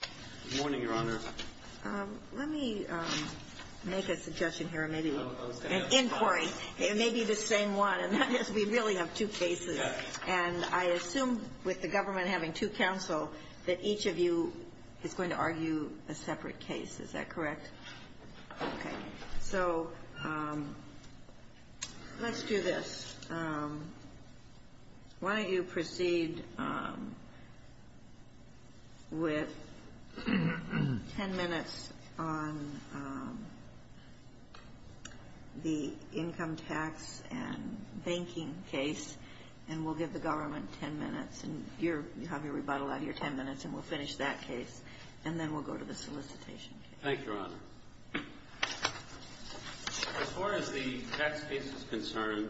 Good morning, Your Honor. Let me make a suggestion here, maybe an inquiry. It may be the same one. We really have two cases, and I assume with the government having two counsel, that each of you is going to argue a separate case. Is that correct? Okay. So let's do this. Why don't you proceed with 10 minutes on the income tax and banking case, and we'll give the government 10 minutes. You have your rebuttal on your 10 minutes, and we'll finish that case, and then we'll go to the solicitation case. Thank you, Your Honor. So we have a situation here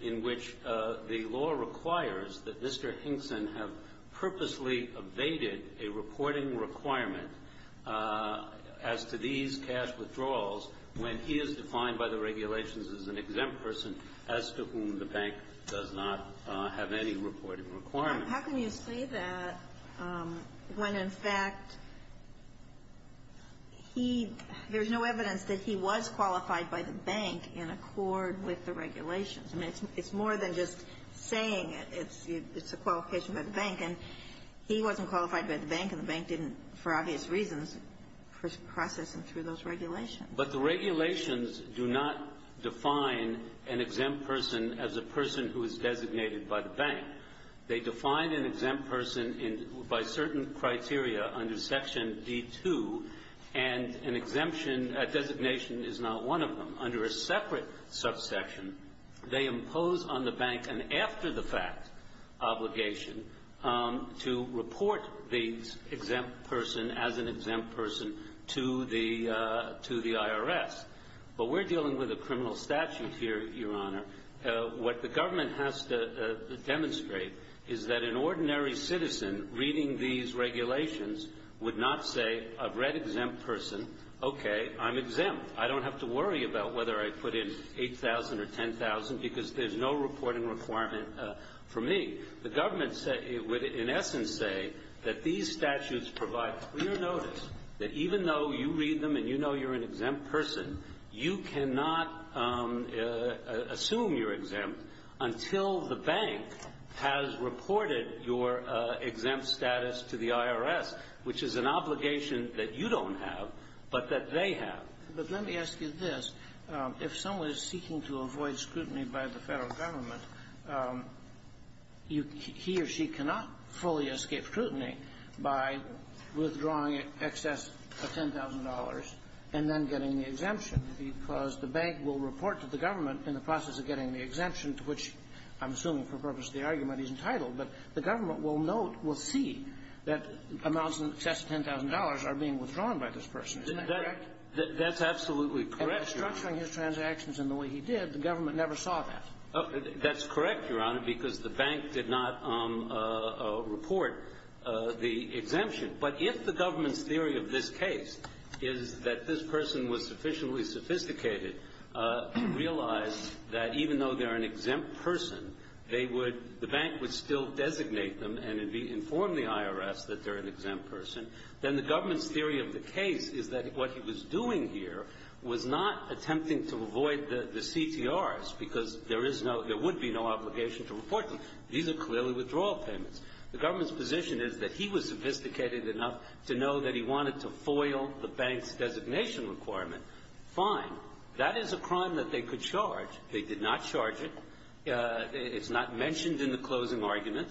in which the law requires that Mr. Hinkson have purposely evaded a reporting requirement as to these cash withdrawals when he is defined by the regulations as an exempt person as to whom the bank does not file CTRs on each cash transaction. How can you say that when, in fact, there's no evidence that he was qualified by the bank in accord with the regulations? It's more than just saying it. It's a qualification by the bank, and he wasn't qualified by the bank, and the bank didn't, for obvious reasons, process him through those regulations. But the regulations do not define an exempt person as a person who is designated by the bank. They define an exempt person by certain criteria under Section D-2, and a designation is not one of them. Under a separate subsection, they impose on the bank an after-the-fact obligation to report the exempt person as an exempt person to the IRS. But we're dealing with a criminal statute here, Your Honor. What the government has to demonstrate is that an ordinary citizen reading these regulations would not say, a red exempt person, okay, I'm exempt. I don't have to worry about whether I put in $8,000 or $10,000 because there's no reporting requirement for me. The government would, in essence, say that these statutes provide clear notice that even though you read them and you know you're an exempt person, you cannot assume you're exempt until the bank has reported your exempt status to the IRS, which is an obligation that you don't have, but that they have. But let me ask you this. If someone is seeking to avoid scrutiny by the federal government, he or she cannot fully escape scrutiny by withdrawing excess of $10,000 and then getting the exemption because the bank will report to the government in the process of getting the exemption, which I'm assuming for the purpose of the argument is entitled, but the government will note, will see that amounts in excess of $10,000 are being withdrawn by this person. Is that correct? That's absolutely correct, Your Honor. And the structure of his transactions and the way he did, the government never saw that. That's correct, Your Honor, because the bank did not report the exemption. But if the government's theory of this case is that this person was sufficiently sophisticated to realize that even though they're an exempt person, the bank would still designate them and inform the IRS that they're an exempt person. Then the government's theory of the case is that what he was doing here was not attempting to avoid the CTRs because there would be no obligation to report them. These are clearly withdrawal payments. The government's position is that he was sophisticated enough to know that he wanted to foil the bank's designation requirement. Fine. That is a crime that they could charge. They did not charge it. It's not mentioned in the closing argument.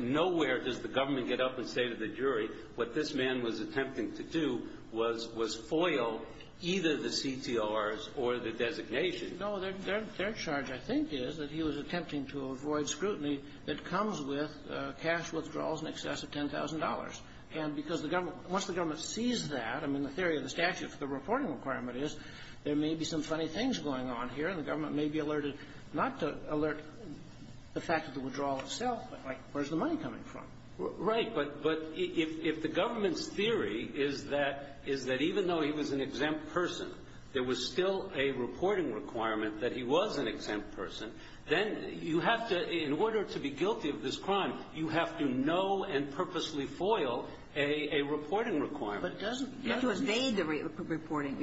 Nowhere does the government get up and say to the jury, what this man was attempting to do was foil either the CTRs or the designation. No, their charge, I think, is that he was attempting to avoid scrutiny that comes with cash withdrawals in excess of $10,000. Once the government sees that, the theory of the statute for the reporting requirement is there may be some funny things going on here. The government may be alerted not to alert the fact of the withdrawal itself, but where's the money coming from? Right, but if the government's theory is that even though he was an exempt person, there was still a reporting requirement that he was an exempt person, then in order to be guilty of this crime, you have to know and purposely foil a reporting requirement. You have to evade the reporting.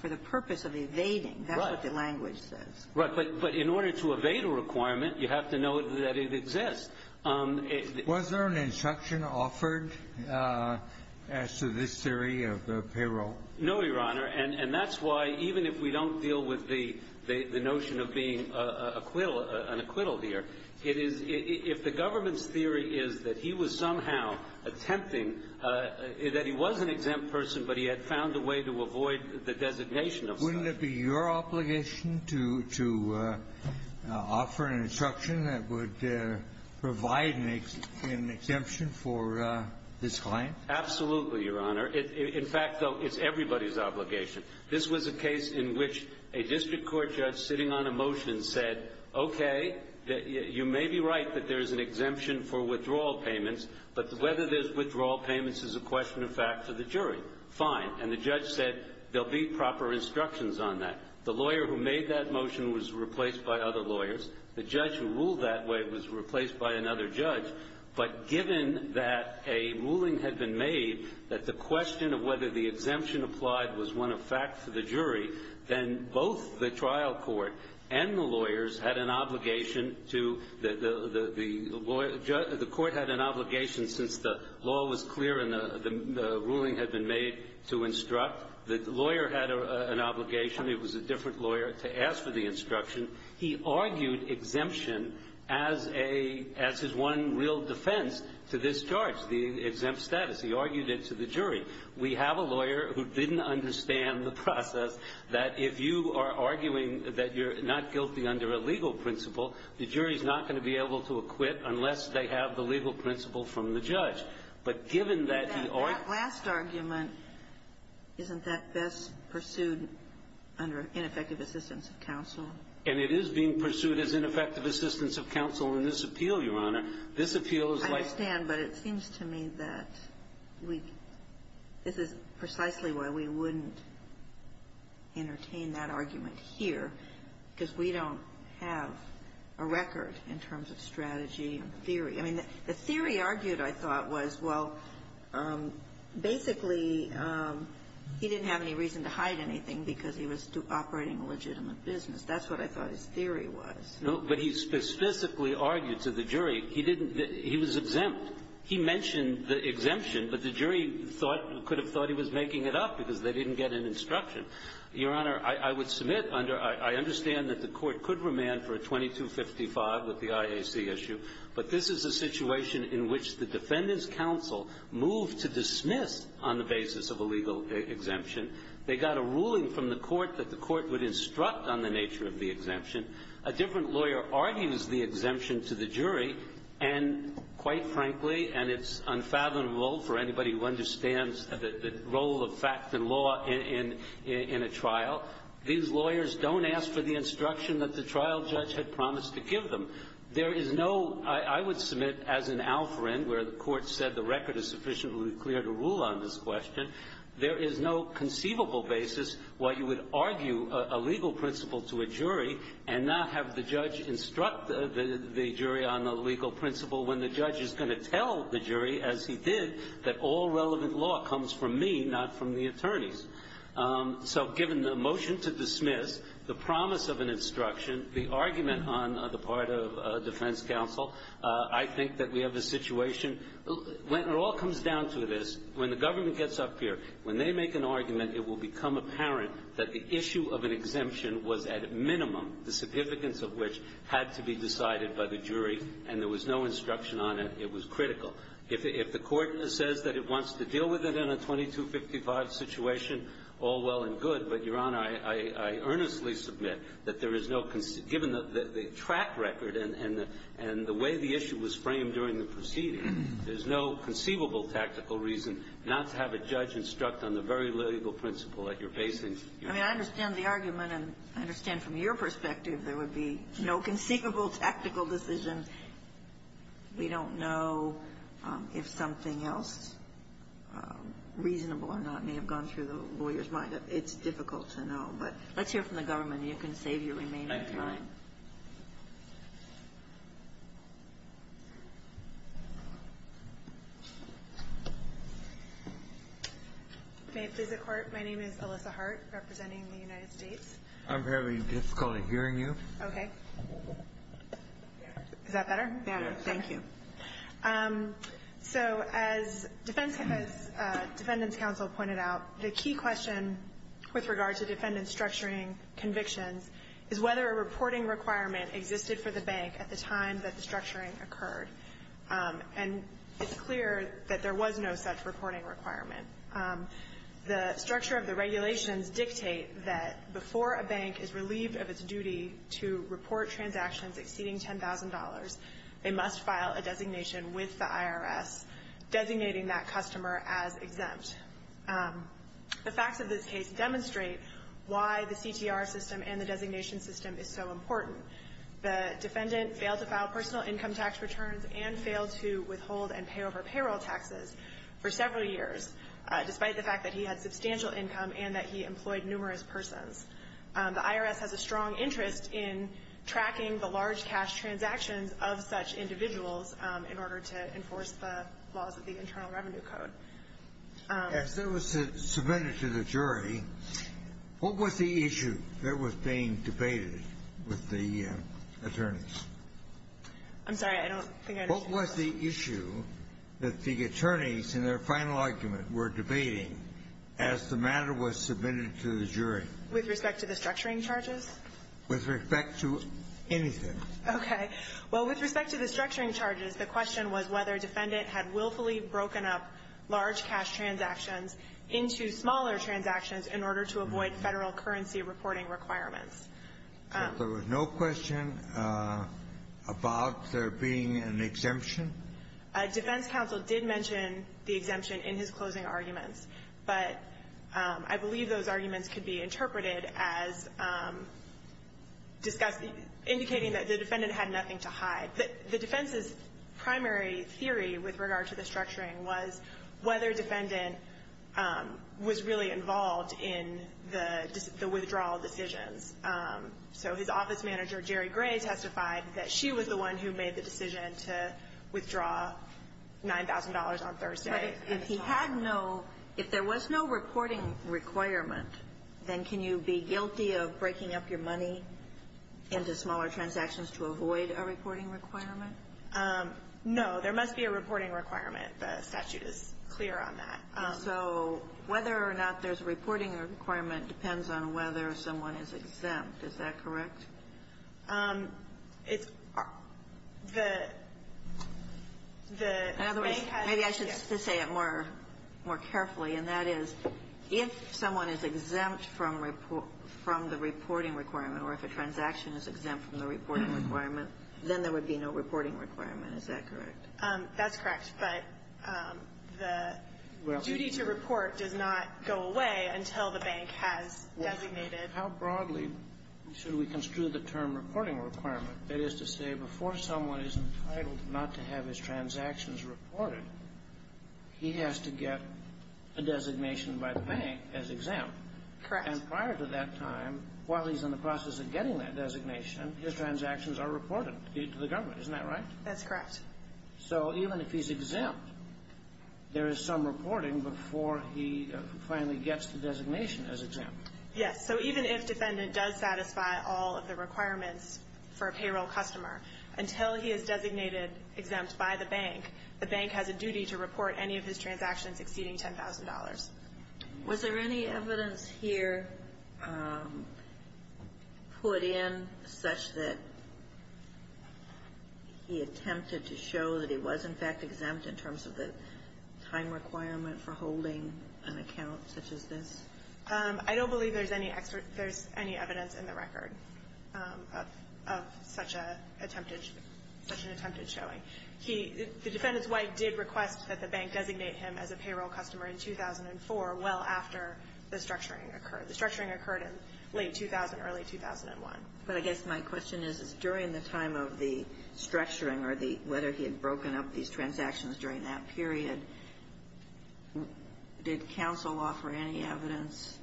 For the purpose of evading, that's what the language says. Right, but in order to evade a requirement, you have to know that it exists. Was there an instruction offered as to this theory of the payroll? No, Your Honor, and that's why even if we don't deal with the notion of being an acquittal here, if the government's theory is that he was somehow attempting, that he was an exempt person, but he had found a way to avoid the designation. Wouldn't it be your obligation to offer an instruction that would provide an exemption for this claim? Absolutely, Your Honor. In fact, it's everybody's obligation. This was a case in which a district court judge sitting on a motion said, okay, you may be right that there's an exemption for withdrawal payments, but whether there's withdrawal payments is a question of fact to the jury. Fine, and the judge said there'll be proper instructions on that. The lawyer who made that motion was replaced by other lawyers. The judge who ruled that way was replaced by another judge, but given that a ruling had been made that the question of whether the exemption applied was one of fact to the jury, then both the trial court and the lawyers had an obligation to the lawyer. The court had an obligation since the law was clear and the ruling had been made to instruct. The lawyer had an obligation. It was a different lawyer to ask for the instruction. He argued exemption as his one real defense to this charge, the exempt status. He argued it to the jury. We have a lawyer who didn't understand the process that if you are arguing that you're not guilty under a legal principle, the jury's not going to be able to acquit unless they have the legal principle from the judge. But given that you are – That last argument isn't that best pursued under ineffective assistance of counsel? And it is being pursued as ineffective assistance of counsel in this appeal, Your Honor. This appeal is like – This is precisely why we wouldn't entertain that argument here, because we don't have a record in terms of strategy and theory. I mean, the theory argued, I thought, was, well, basically, he didn't have any reason to hide anything because he was operating a legitimate business. That's what I thought his theory was. No, but he specifically argued to the jury. He was exempt. He mentioned the exemption, but the jury thought – could have thought he was making it up because they didn't get an instruction. Your Honor, I would submit under – I understand that the court could remand for a 2255 with the IAC issue, but this is a situation in which the defendant's counsel moved to dismiss on the basis of a legal exemption. They got a ruling from the court that the court would instruct on the nature of the exemption. A different lawyer argues the exemption to the jury, and quite frankly, and it's unfathomable for anybody who understands the role of fact and law in a trial, these lawyers don't ask for the instruction that the trial judge had promised to give them. There is no – I would submit as an alpharend where the court said the record is sufficiently clear to rule on this question, there is no conceivable basis why you would argue a legal principle to a jury and not have the judge instruct the jury on a legal principle when the judge is going to tell the jury, as he did, that all relevant law comes from me, not from the attorneys. So given the motion to dismiss, the promise of an instruction, the argument on the part of defense counsel, I think that we have a situation – it all comes down to this. When the government gets up here, when they make an argument, it will become apparent that the issue of an exemption was at minimum, the significance of which had to be decided by the jury, and there was no instruction on it. It was critical. If the court says that it wants to deal with it in a 2255 situation, all well and good, but, Your Honor, I earnestly submit that there is no – given the track record and the way the issue was framed during the proceedings, there is no conceivable tactical reason not to have a judge instruct on the very legal principle that you're facing. I mean, I understand the argument, and I understand from your perspective there would be no conceivable tactical decision. We don't know if something else reasonable or not may have gone through the lawyer's mind. It's difficult to know, but let's hear from the government. Thank you, Your Honor. May it please the Court, my name is Alyssa Hart, representing the United States. I'm having difficulty hearing you. Okay. Is that better? Yes. Thank you. So, as Defendant's Counsel pointed out, the key question with regard to defendant's structuring conviction is whether a reporting requirement existed for the bank at the time that the structuring occurred. And it's clear that there was no such reporting requirement. The structure of the regulations dictate that before a bank is relieved of its duty to report transactions exceeding $10,000, they must file a designation with the IRS, designating that customer as exempt. The facts of this case demonstrate why the CTR system and the designation system is so important. The defendant failed to file personal income tax returns and failed to withhold and pay over payroll taxes for several years, despite the fact that he had substantial income and that he employed numerous persons. The IRS has a strong interest in tracking the large cash transactions of such individuals in order to enforce the laws of the Internal Revenue Code. As this was submitted to the jury, what was the issue that was being debated with the attorneys? I'm sorry, I don't understand. What was the issue that the attorneys in their final argument were debating as the matter was submitted to the jury? With respect to the structuring charges? With respect to anything. Okay. Well, with respect to the structuring charges, the question was whether a defendant had willfully broken up large cash transactions into smaller transactions in order to avoid federal currency reporting requirements. There was no question about there being an exemption? A defense counsel did mention the exemption in his closing argument, but I believe those arguments could be interpreted as indicating that the defendant had nothing to hide. The defense's primary theory with regard to the structuring was whether a defendant was really involved in the withdrawal decision. So his office manager, Jerry Gray, testified that she was the one who made the decision to withdraw $9,000 on Thursday. If there was no reporting requirement, then can you be guilty of breaking up your money into smaller transactions to avoid a reporting requirement? No, there must be a reporting requirement. The statute is clear on that. So whether or not there's a reporting requirement depends on whether someone is exempt. Is that correct? In other words, maybe I should say it more carefully, and that is if someone is exempt from the reporting requirement or if a transaction is exempt from the reporting requirement, then there would be no reporting requirement. Is that correct? That's correct. But the duty to report did not go away until the bank has designated... How broadly should we construe the term reporting requirement? That is to say before someone is entitled not to have his transactions reported, he has to get a designation by the bank as exempt. Correct. And prior to that time, while he's in the process of getting that designation, his transactions are reported to the government. Isn't that right? That's correct. So even if he's exempt, there is some reporting before he finally gets the designation as exempt. Yes. So even if defendant does satisfy all of the requirements for a payroll customer, until he is designated exempt by the bank, the bank has a duty to report any of his transactions exceeding $10,000. Was there any evidence here put in such that he attempted to show that he was, in fact, exempt in terms of the fine requirement for holding an account such as this? I don't believe there's any evidence in the record of such an attempted showing. The defendant's wife did request that the bank designate him as a payroll customer in 2004, well after the structuring occurred. The structuring occurred in late 2000, early 2001. But I guess my question is during the time of the structuring or whether he had broken up these transactions during that period, did counsel offer any evidence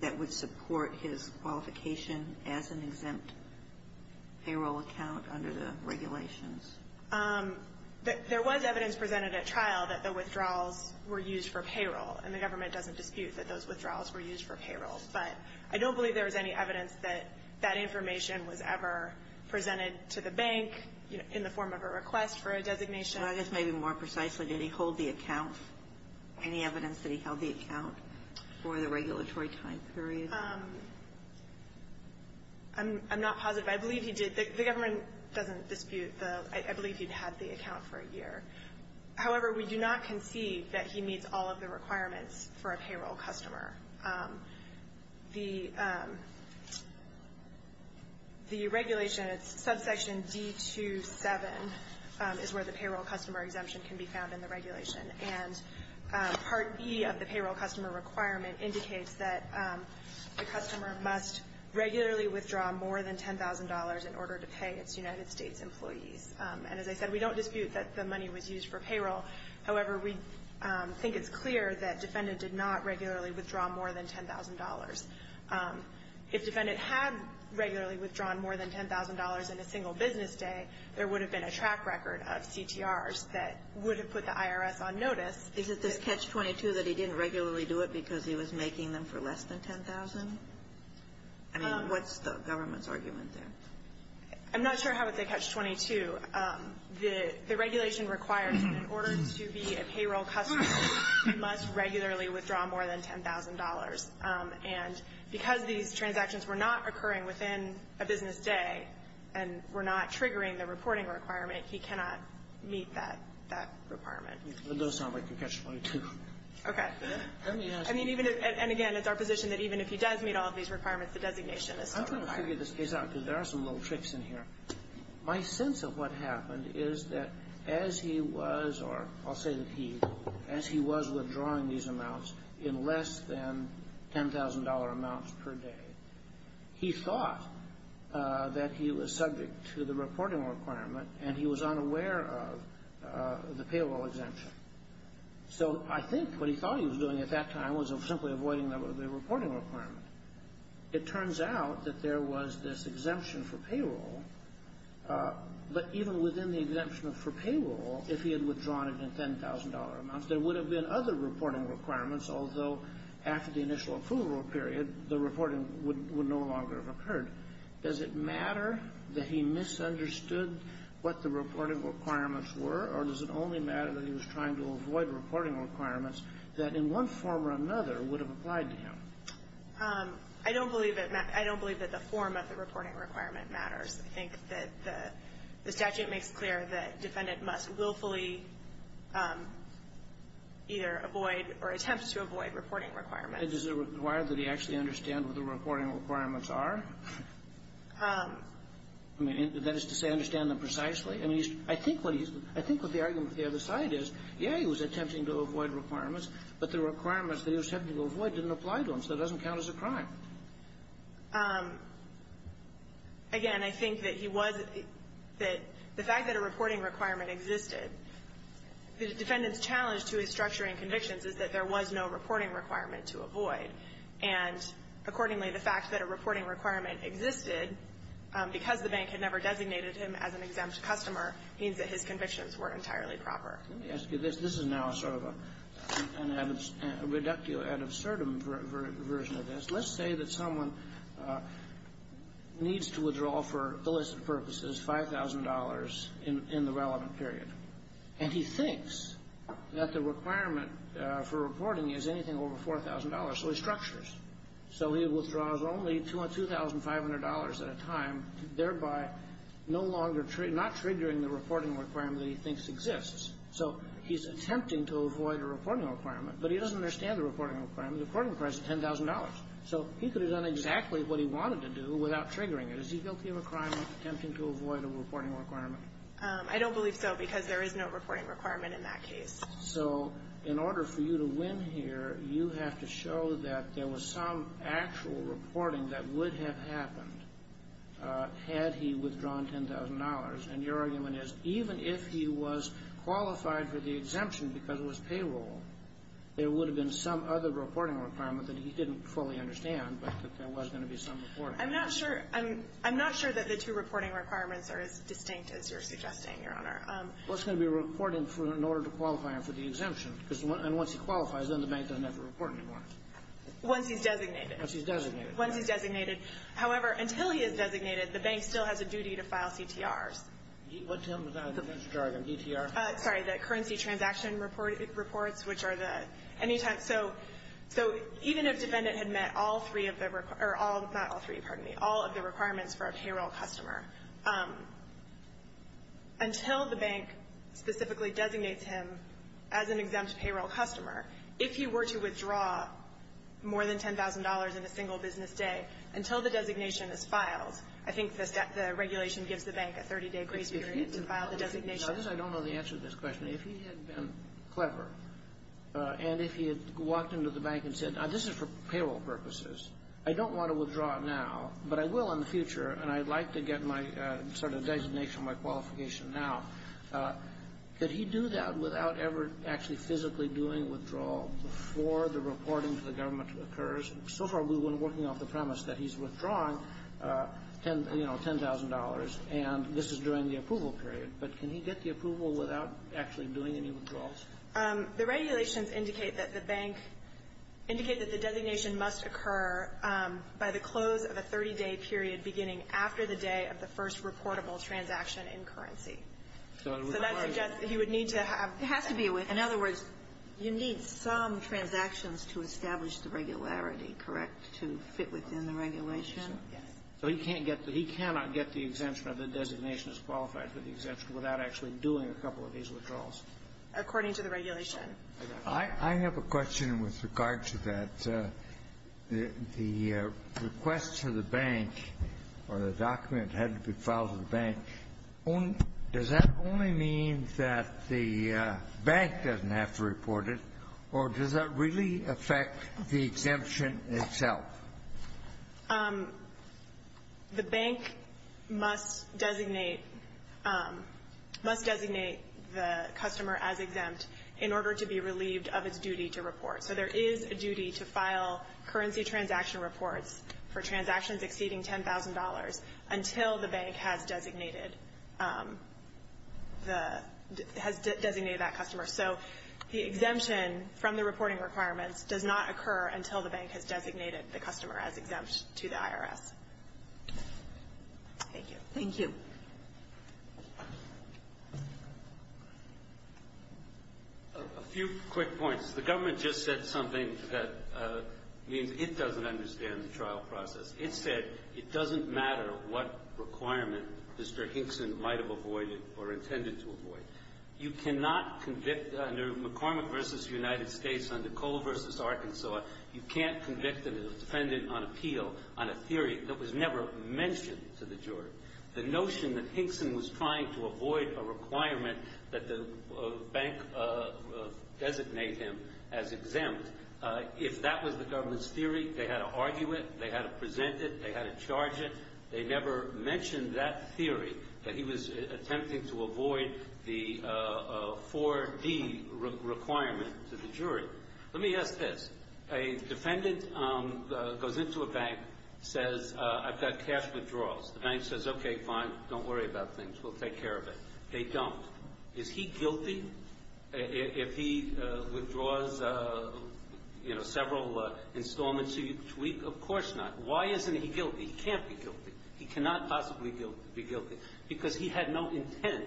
that would support his qualification as an exempt payroll account under the regulations? There was evidence presented at trial that the withdrawals were used for payroll, and the government doesn't dispute that those withdrawals were used for payroll. But I don't believe there was any evidence that that information was ever presented to the bank in the form of a request for a designation. Any evidence that he held the account for the regulatory time period? I'm not positive. I believe he did. The government doesn't dispute. I believe he had the account for a year. However, we do not concede that he meets all of the requirements for a payroll customer. The regulation, subsection D27, is where the payroll customer exemption can be found in the regulation. And Part E of the payroll customer requirement indicates that the customer must regularly withdraw more than $10,000 in order to pay its United States employees. And as I said, we don't dispute that the money was used for payroll. However, we think it's clear that Defendant did not regularly withdraw more than $10,000. If Defendant had regularly withdrawn more than $10,000 in a single business day, there would have been a track record of CTRs that would have put the IRS on notice. Is it the catch-22 that he didn't regularly do it because he was making them for less than $10,000? I mean, what's the government's argument there? I'm not sure how it's a catch-22. The regulation requires that in order to be a payroll customer, he must regularly withdraw more than $10,000. And because these transactions were not occurring within a business day and were not triggering the reporting requirement, he cannot meet that requirement. It does sound like a catch-22. Okay. I mean, even if – and again, it's our position that even if he does meet all of these requirements, the designation is not required. I'm going to figure this case out because there are some little tricks in here. My sense of what happened is that as he was – or I'll say that he – as he was withdrawing these amounts in less than $10,000 amounts per day, he thought that he was subject to the reporting requirement, and he was unaware of the payroll exemption. So I think what he thought he was doing at that time was simply avoiding the reporting requirement. It turns out that there was this exemption for payroll, but even within the exemption for payroll, if he had withdrawn it in $10,000 amounts, there would have been other reporting requirements, although after the initial approval period, the reporting would no longer have occurred. Does it matter that he misunderstood what the reporting requirements were, or does it only matter that he was trying to avoid reporting requirements that in one form or another would have applied to him? I don't believe that – I don't believe that the form of the reporting requirement matters. I think that the statute makes clear that a defendant must willfully either avoid or attempts to avoid reporting requirements. Does it require that he actually understand what the reporting requirements are? That is to say, understand them precisely? I think what the argument of the other side is, yeah, he was attempting to avoid requirements, but the requirements that he was attempting to avoid didn't apply to him, so it doesn't count as a crime. Again, I think that he was – the fact that a reporting requirement existed, the defendant's challenge to his structure and convictions is that there was no reporting requirement to avoid, and accordingly, the fact that a reporting requirement existed, because the bank had never designated him as an exempt customer, means that his convictions weren't entirely proper. Let me ask you this. This is now sort of an ad absurdum version of this. Let's say that someone needs to withdraw, for illicit purposes, $5,000 in the relevant period, and he thinks that the requirement for reporting is anything over $4,000, so he structures. So he withdraws only $2,500 at a time, thereby no longer – not triggering the reporting requirement that he thinks exists. So he's attempting to avoid a reporting requirement, but he doesn't understand the reporting requirement. The reporting requirement is $10,000. So he could have done exactly what he wanted to do without triggering it. Is he guilty of a crime of attempting to avoid a reporting requirement? I don't believe so, because there is no reporting requirement in that case. So in order for you to win here, you have to show that there was some actual reporting that would have happened had he withdrawn $10,000. And your argument is, even if he was qualified for the exemption because it was payroll, there would have been some other reporting requirement that he didn't fully understand, but that there was going to be some reporting. I'm not sure that the two reporting requirements are as distinct as you're suggesting, Your Honor. Well, it's going to be reporting in order to qualify him for the exemption. And once he qualifies, then the bank doesn't have a reporting requirement. Once he's designated. Once he's designated. Once he's designated. However, until he is designated, the bank still has a duty to file CTRs. What's that? I'm sorry, a DTR? Sorry, the currency transaction reports, which are the – so even if the defendant had met all three of the – not all three, pardon me – all of the requirements for a payroll customer, until the bank specifically designates him as an exempt payroll customer, if he were to withdraw more than $10,000 in a single business day, until the designation is filed, I think the regulation gives the bank a 30-day period to file the designation. I don't know the answer to this question. If he had been clever and if he had walked into the bank and said, this is for payroll purposes, I don't want to withdraw now, but I will in the future, and I'd like to get my sort of designation, my qualification now, could he do that without ever actually physically doing a withdrawal before the reporting to the government occurs? So far we've been working off the premise that he's withdrawing, you know, $10,000, and this is during the approval period, but can he get the approval without actually doing any withdrawals? The regulations indicate that the bank – is after the day of the first reportable transaction in currency. So that suggests that he would need to have – have to deal with – in other words, you need some transactions to establish the regularity, correct, to fit within the regulation? Yes. So he can't get – he cannot get the exemption of the designation as qualified for the exemption without actually doing a couple of these withdrawals? According to the regulation. I have a question with regard to that. The request to the bank for the document had to be filed to the bank. Does that only mean that the bank doesn't have to report it, or does that really affect the exemption itself? The bank must designate the customer as exempt in order to be relieved of its duty to report. So there is a duty to file currency transaction reports for transactions exceeding $10,000 until the bank has designated the – has designated that customer. So the exemption from the reporting requirements does not occur until the bank has designated the customer as exempt to the IRS. Thank you. Thank you. A few quick points. The government just said something that means it doesn't understand the trial process. It said it doesn't matter what requirement Mr. Hinkson might have avoided or intended to avoid. You cannot convict – under McCormick v. United States, under Cole v. Arkansas, you can't convict a defendant on appeal on a theory that was never mentioned to the jury. The notion that Hinkson was trying to avoid a requirement that the bank designate him as exempt, if that was the government's theory, they had to argue it, they had to present it, they had to charge it. They never mentioned that theory, that he was attempting to avoid the 4D requirement to the jury. Let me ask this. A defendant goes into a bank, says, I've got cash withdrawals. The bank says, okay, fine, don't worry about things. We'll take care of it. They don't. Is he guilty if he withdraws, you know, several installments each week? Of course not. Why isn't he guilty? He can't be guilty. He cannot possibly be guilty because he had no intent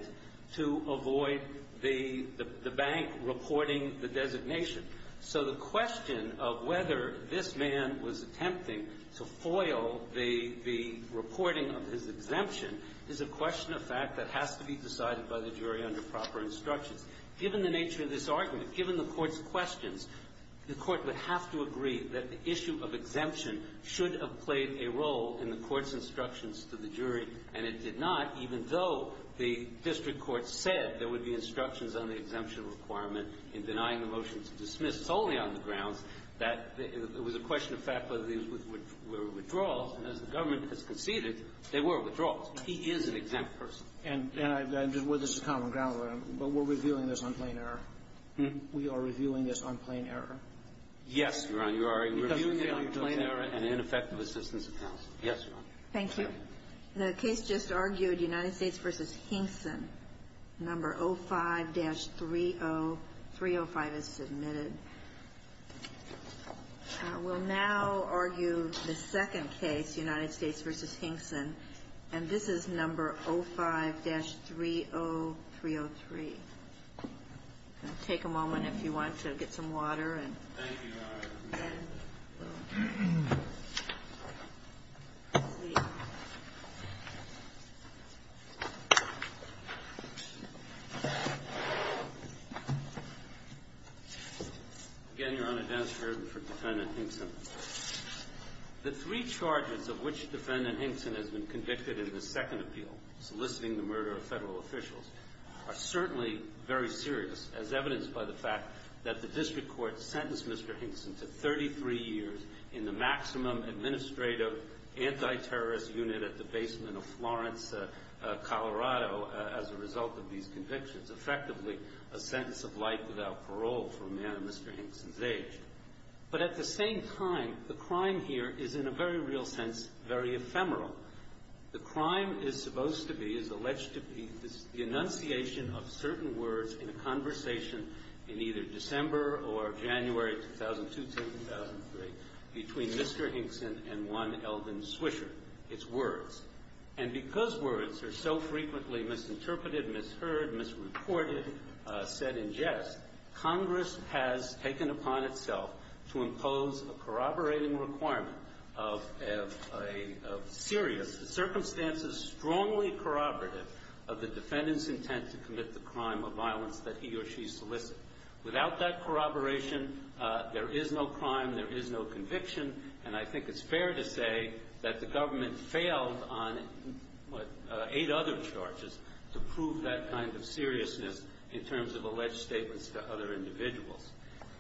to avoid the bank reporting the designation. So the question of whether this man was attempting to foil the reporting of his exemption is a question of fact that has to be decided by the jury under proper instruction. Given the nature of this argument, given the Court's questions, the Court would have to agree that the issue of exemption should have played a role in the Court's instructions to the jury, and it did not, even though the district court said there would be instructions on the exemption requirement in denying the motion to dismiss solely on the grounds that it was a question of fact that these were withdrawals, and as the government has conceded, they were withdrawals. He is an exempt person. Was this a common ground? But we're reviewing this on plain error. We are reviewing this on plain error. Yes, Your Honor. You are reviewing this on plain error and ineffective assistance. Yes, Your Honor. Thank you. The case just argued, United States v. Hinkson, number 05-30. 305 is submitted. I will now argue the second case, United States v. Hinkson, and this is number 05-30303. Take a moment if you want to get some water. Again, Your Honor, Dennis Burton from Defendant Hinkson. The three charges of which Defendant Hinkson has been convicted in the second appeal, soliciting the murder of federal officials, are certainly very serious as evidenced by the fact that the district court sentenced Mr. Hinkson to 33 years in the maximum administrative anti-terrorist unit at the basement of Florence, Colorado, as a result of these convictions. It's effectively a sentence of life without parole for a man Mr. Hinkson's age. But at the same time, the crime here is, in a very real sense, very ephemeral. The crime is supposed to be, is alleged to be the enunciation of certain words in a conversation in either December or January 2002-2003 between Mr. Hinkson and one Elvin Swisher. It's words. And because words are so frequently misinterpreted, misheard, misreported, said in jest, Congress has taken upon itself to impose a corroborating requirement of serious circumstances, strongly corroborative of the defendant's intent to commit the crime of violence that he or she solicited. Without that corroboration, there is no crime, there is no conviction, and I think it's fair to say that the government failed on, what, eight other charges to prove that kind of seriousness in terms of alleged statements to other individuals.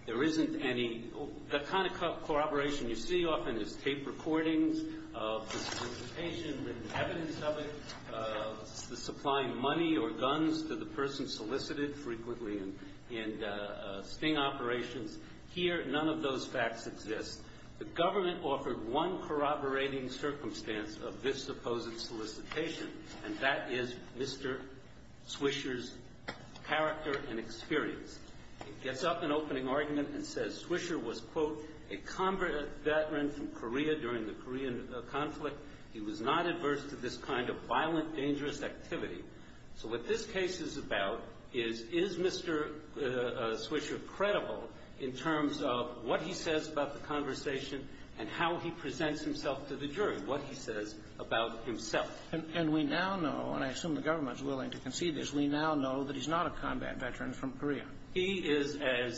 There isn't any, the kind of corroboration you see often is tape recordings of identification, evidence of it, the supplying money or guns to the person solicited frequently in sting operations. Here, none of those facts exist. The government offered one corroborating circumstance of this supposed solicitation, and that is Mr. Swisher's character and experience. It gets up an opening argument and says Swisher was, quote, a combatant in Korea during the Korean conflict. He was not adverse to this kind of violent, dangerous activity. So what this case is about is, is Mr. Swisher credible in terms of what he says about the conversation and how he presents himself to the jury, what he says about himself? And we now know, and I assume the government is willing to concede this, we now know that he's not a combat veteran from Korea. He is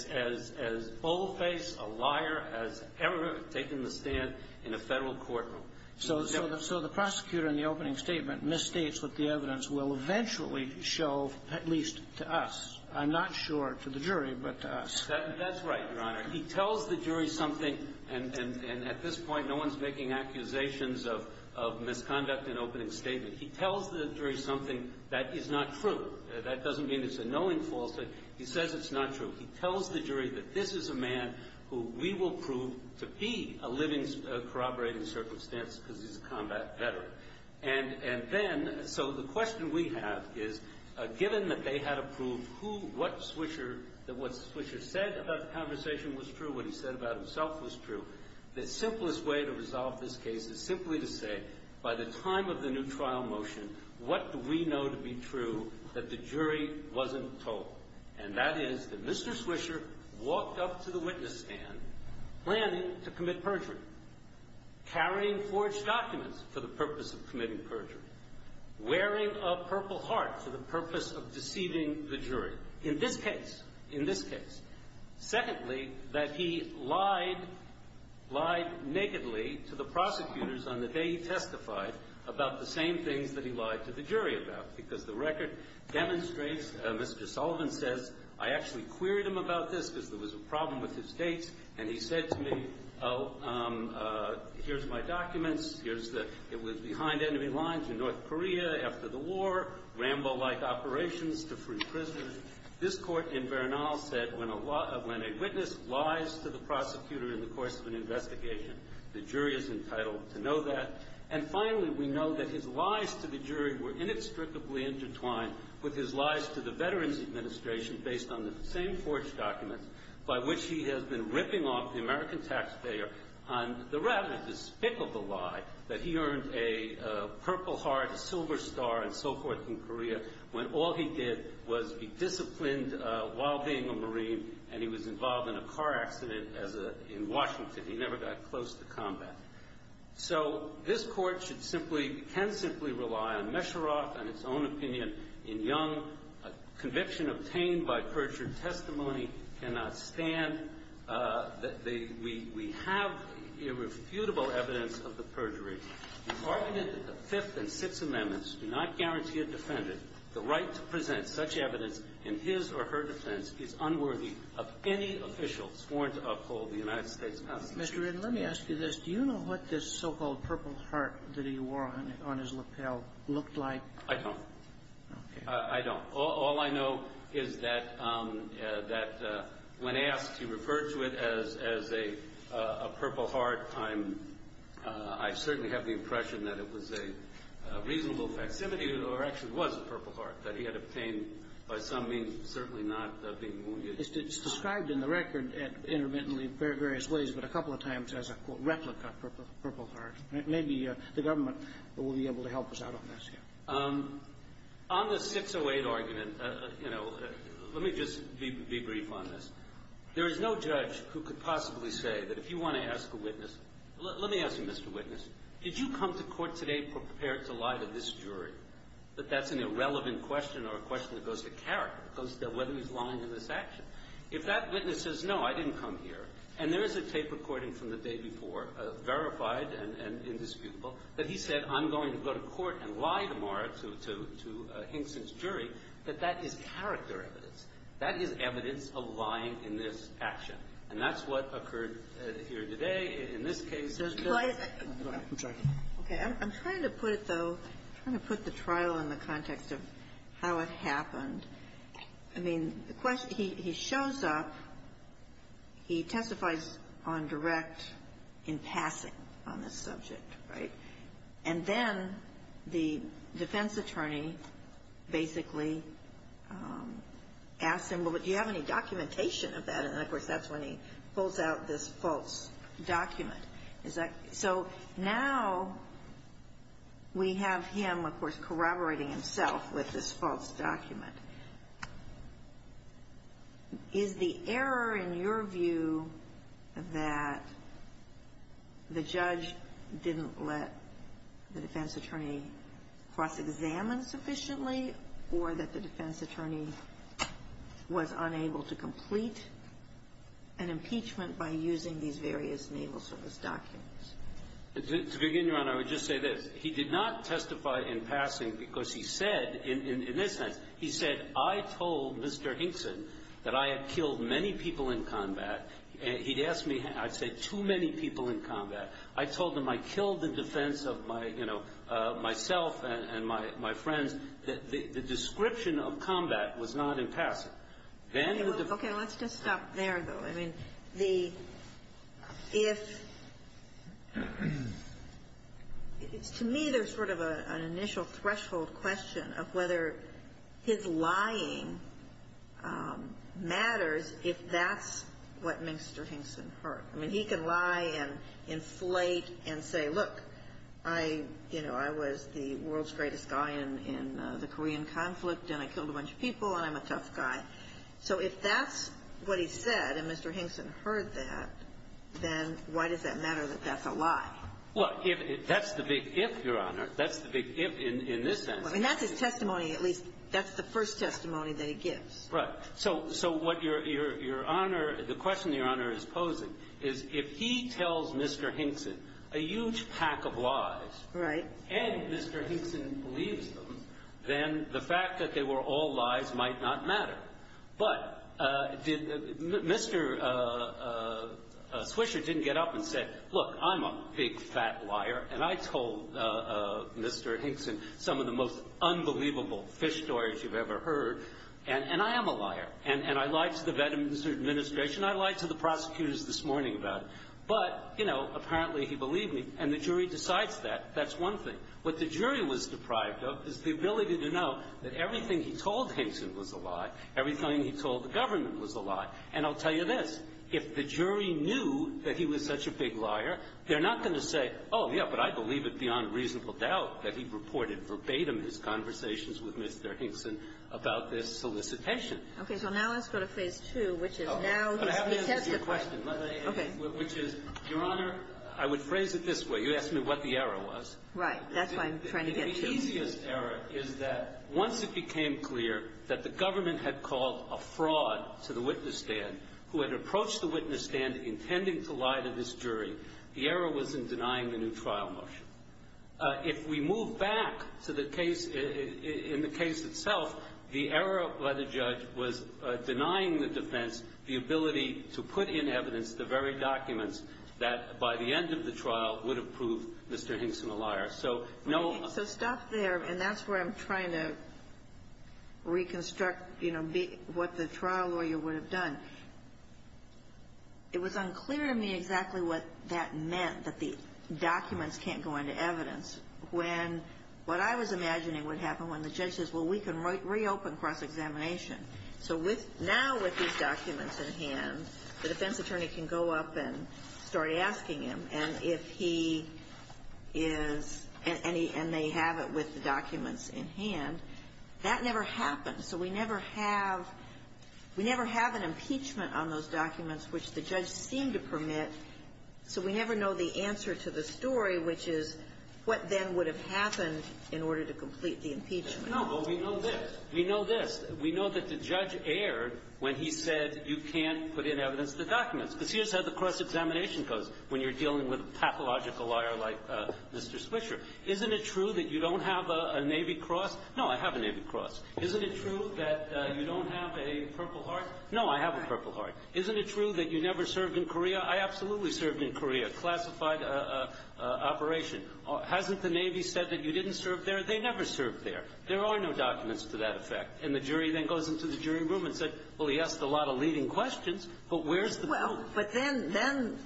as bold-faced a liar as ever taken the stand in a federal courtroom. So the prosecutor in the opening statement misstates what the evidence will eventually show, at least to us. I'm not sure to the jury, but to us. That's right, Your Honor. He tells the jury something, and at this point no one's making accusations of misconduct in opening statements. He tells the jury something that is not true. That doesn't mean it's a knowing falsehood. He says it's not true. He tells the jury that this is a man who we will prove to be a living, corroborating circumstance because he's a combat veteran. And then, so the question we have is, given that they had approved who, what Swisher, that what Swisher said about the conversation was true and what he said about himself was true, the simplest way to resolve this case is simply to say, by the time of the new trial motion, what do we know to be true that the jury wasn't told? And that is that Mr. Swisher walked up to the witness stand, planned to commit perjury, carrying forged documents for the purpose of committing perjury, wearing a purple heart for the purpose of deceiving the jury. In this case, in this case. Secondly, that he lied nakedly to the prosecutors on the day he testified about the same things that he lied to the jury about because the record demonstrates, as Mr. Sullivan said, I actually queried him about this because there was a problem with his state. And he said to me, here's my documents. It was behind enemy lines in North Korea after the war, Rambo-like operations to free prisoners. This court in Bernal said when a witness lies to the prosecutor in the course of an investigation, the jury is entitled to know that. And finally, we know that his lies to the jury were inextricably intertwined with his lies to the Veterans Administration based on the same forged documents by which he has been ripping off the American taxpayer on the rather despicable lie that he earned a purple heart, a silver star, and so forth in Korea when all he did was be disciplined while being a Marine and he was involved in a car accident in Washington. He never got close to combat. So, this court can simply rely on Mesherov and his own opinion in Young. A conviction obtained by perjury testimony cannot stand. We have irrefutable evidence of the perjury. The argument of the Fifth and Sixth Amendments do not guarantee a defendant the right to present such evidence in his or her defense is unworthy of any official sworn to uphold the United States Constitution. Mr. Ridden, let me ask you this. Do you know what this so-called purple heart that he wore on his lapel looked like? I don't. I don't. All I know is that when asked to refer to it as a purple heart, I certainly have the impression that it was a reasonable activity or actually was a purple heart that he had obtained by some means, certainly not being wounded. It's described in the record intermittently in various ways, but a couple of times as a replica purple heart. Maybe the government will be able to help us out on this. On the 608 argument, let me just be brief on this. There is no judge who could possibly say that if you want to ask a witness, let me ask you, Mr. Witness, did you come to court today prepared to lie to this jury that that's an irrelevant question or a question that goes to character, that goes to the line in this action? If that witness says, no, I didn't come here, and there is a tape recording from the day before, verified and indisputable, that he said, I'm going to go to court and lie tomorrow to Hinkson's jury, that that is character evidence. That is evidence aligned in this action. And that's what occurred here today in this case. I'm trying to put it, though, I'm trying to put the trial in the context of how it happened. I mean, the question, he shows up, he testifies on direct in passing on this subject, right? And then the defense attorney basically asks him, well, do you have any documentation of that? And, of course, that's when he pulls out this false document. So now we have him, of course, corroborating himself with this false document. Is the error in your view that the judge didn't let the defense attorney cross-examine sufficiently or that the defense attorney was unable to complete an impeachment by using these various naval service documents? To begin with, I would just say this. He did not testify in passing because he said, in this instance, he said, I told Mr. Hinkson that I had killed many people in combat. He asked me, I said, too many people in combat. I told him I killed the defense of myself and my friends. The description of combat was not in passing. Okay, let's just stop there, though. To me, there's sort of an initial threshold question of whether his lying matters if that's what Minster Hinkson heard. I mean, he can lie and inflate and say, look, I was the world's greatest guy in the Korean conflict and I killed a bunch of people and I'm a tough guy. So if that's what he said and Mr. Hinkson heard that, then why does that matter that that's a lie? Well, that's the big if, Your Honor. That's the big if in this sense. I mean, that's his testimony. At least that's the first testimony that he gives. Right. So what Your Honor, the question Your Honor is posing is if he tells Mr. Hinkson a huge pack of lies and Mr. Hinkson believes them, then the fact that they were all lies might not matter. But Mr. Swisher didn't get up and say, look, I'm a big, fat liar, and I told Mr. Hinkson some of the most unbelievable fish stories you've ever heard, and I am a liar, and I lied to the administration, I lied to the prosecutors this morning about it. But, you know, apparently he believed me, and the jury decides that. That's one thing. What the jury was deprived of is the ability to know that everything he told Hinkson was a lie, everything he told the government was a lie. And I'll tell you this. If the jury knew that he was such a big liar, they're not going to say, oh, yeah, but I believe it's beyond reasonable doubt that he reported verbatim his conversations with Mr. Hinkson about this solicitation. Okay. Well, now let's go to phase two, which is now he's attempted. Okay. Which is, Your Honor, I would phrase it this way. You asked me what the error was. Right. That's what I'm trying to get to. The easiest error is that once it became clear that the government had called a fraud to the witness stand who had approached the witness stand intending to lie to this jury, the error was in denying the new trial motion. If we move back to the case in the case itself, the error by the judge was denying the defense the ability to put in evidence the very documents that, by the end of the trial, would have proved Mr. Hinkson a liar. So stop there, and that's where I'm trying to reconstruct what the trial lawyer would have done. It was unclear to me exactly what that meant, that the documents can't go into evidence, when what I was imagining would happen when the judge says, well, we can reopen cross-examination. So now with these documents in hand, the defense attorney can go up and start asking him, and if he is, and they have it with the documents in hand, that never happens. So we never have an impeachment on those documents, which the judge seemed to permit, so we never know the answer to the story, which is what then would have happened in order to complete the impeachment. No, but we know this. We know this. We know that the judge erred when he said you can't put in evidence in the documents. The judge has a cross-examination code when you're dealing with a pathological liar like Mr. Swisher. Isn't it true that you don't have a Navy Cross? No, I have a Navy Cross. Isn't it true that you don't have a Purple Heart? No, I have a Purple Heart. Isn't it true that you never served in Korea? I absolutely served in Korea, classified operation. Hasn't the Navy said that you didn't serve there? No, but they never served there. There are no documents to that effect, and the jury then goes into the jury room and says, well, he asked a lot of leading questions, but where's the truth? Well, but then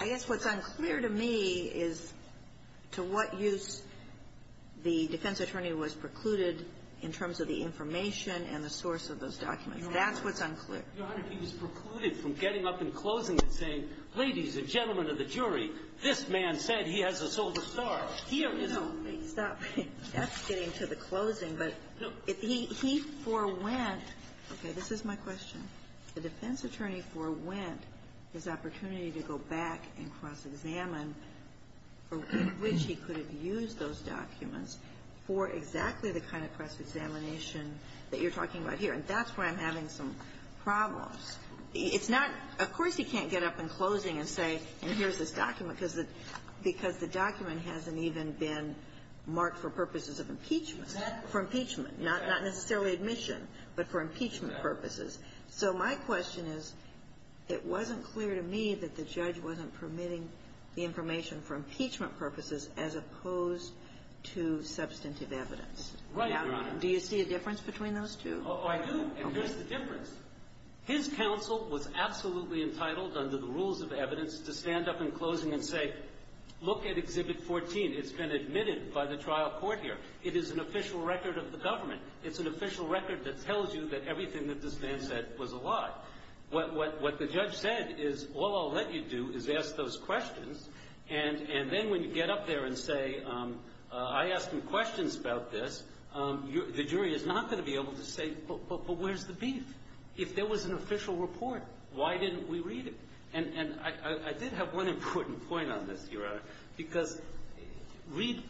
I guess what's unclear to me is to what use the defense attorney was precluded in terms of the information and the source of those documents. That's what's unclear. He was precluded from getting up and closing it, saying, ladies and gentlemen of the jury, this man said he has a soul to start. Stop. That's getting to the closing, but he forewent. Okay, this is my question. The defense attorney forewent his opportunity to go back and cross-examine for which he could have used those documents for exactly the kind of cross-examination that you're talking about here, and that's where I'm having some problems. Of course he can't get up and closing and say, and here's this document, because the document hasn't even been marked for purposes of impeachment, for impeachment, not necessarily admission, but for impeachment purposes. So my question is, it wasn't clear to me that the judge wasn't permitting the information for impeachment purposes as opposed to substantive evidence. Do you see a difference between those two? I do, and here's the difference. His counsel was absolutely entitled under the rules of evidence to stand up in closing and say, look at Exhibit 14. It's been admitted by the trial court here. It is an official record of the government. It's an official record that tells you that everything that this man said was a lie. What the judge said is, all I'll let you do is ask those questions, and then when you get up there and say, I asked him questions about this, the jury is not going to be able to say, but where's the beef? If there was an official report, why didn't we read it? And I did have one important point on this, Your Honor, because read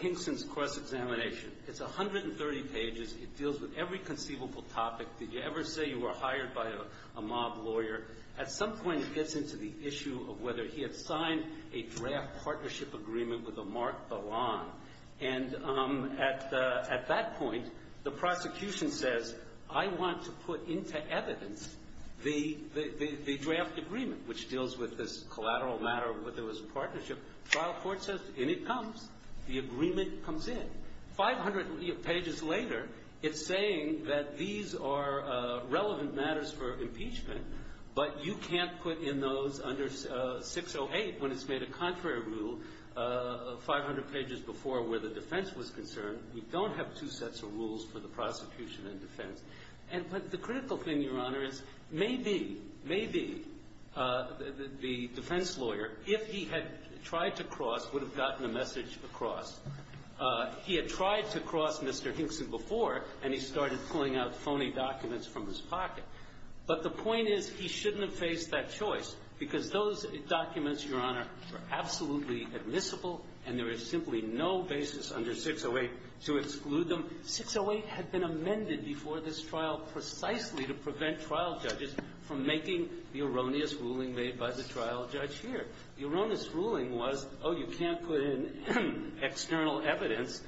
Hinkson's cross-examination. It's 130 pages. It deals with every conceivable topic. Did you ever say you were hired by a mob lawyer? At some point, it gets into the issue of whether he had signed a draft partnership agreement with a marked ballon, and at that point, the prosecution says, I want to put into evidence the draft agreement, which deals with this collateral matter of whether there was a partnership. Trial court says, in it comes. The agreement comes in. 500 pages later, it's saying that these are relevant matters for impeachment, but you can't put in those under 608 when it's made a contrary rule 500 pages before where the defense was concerned. We don't have two sets of rules for the prosecution and defense. But the critical thing, Your Honor, is maybe, maybe the defense lawyer, if he had tried to cross, would have gotten the message across. He had tried to cross Mr. Hinkson before, and he started pulling out phony documents from his pocket. But the point is he shouldn't have faced that choice because those documents, Your Honor, are absolutely admissible, and there is simply no basis under 608 to exclude them. 608 had been amended before this trial precisely to prevent trial judges from making the erroneous ruling made by the trial judge here. The erroneous ruling was, oh, you can't put in external evidence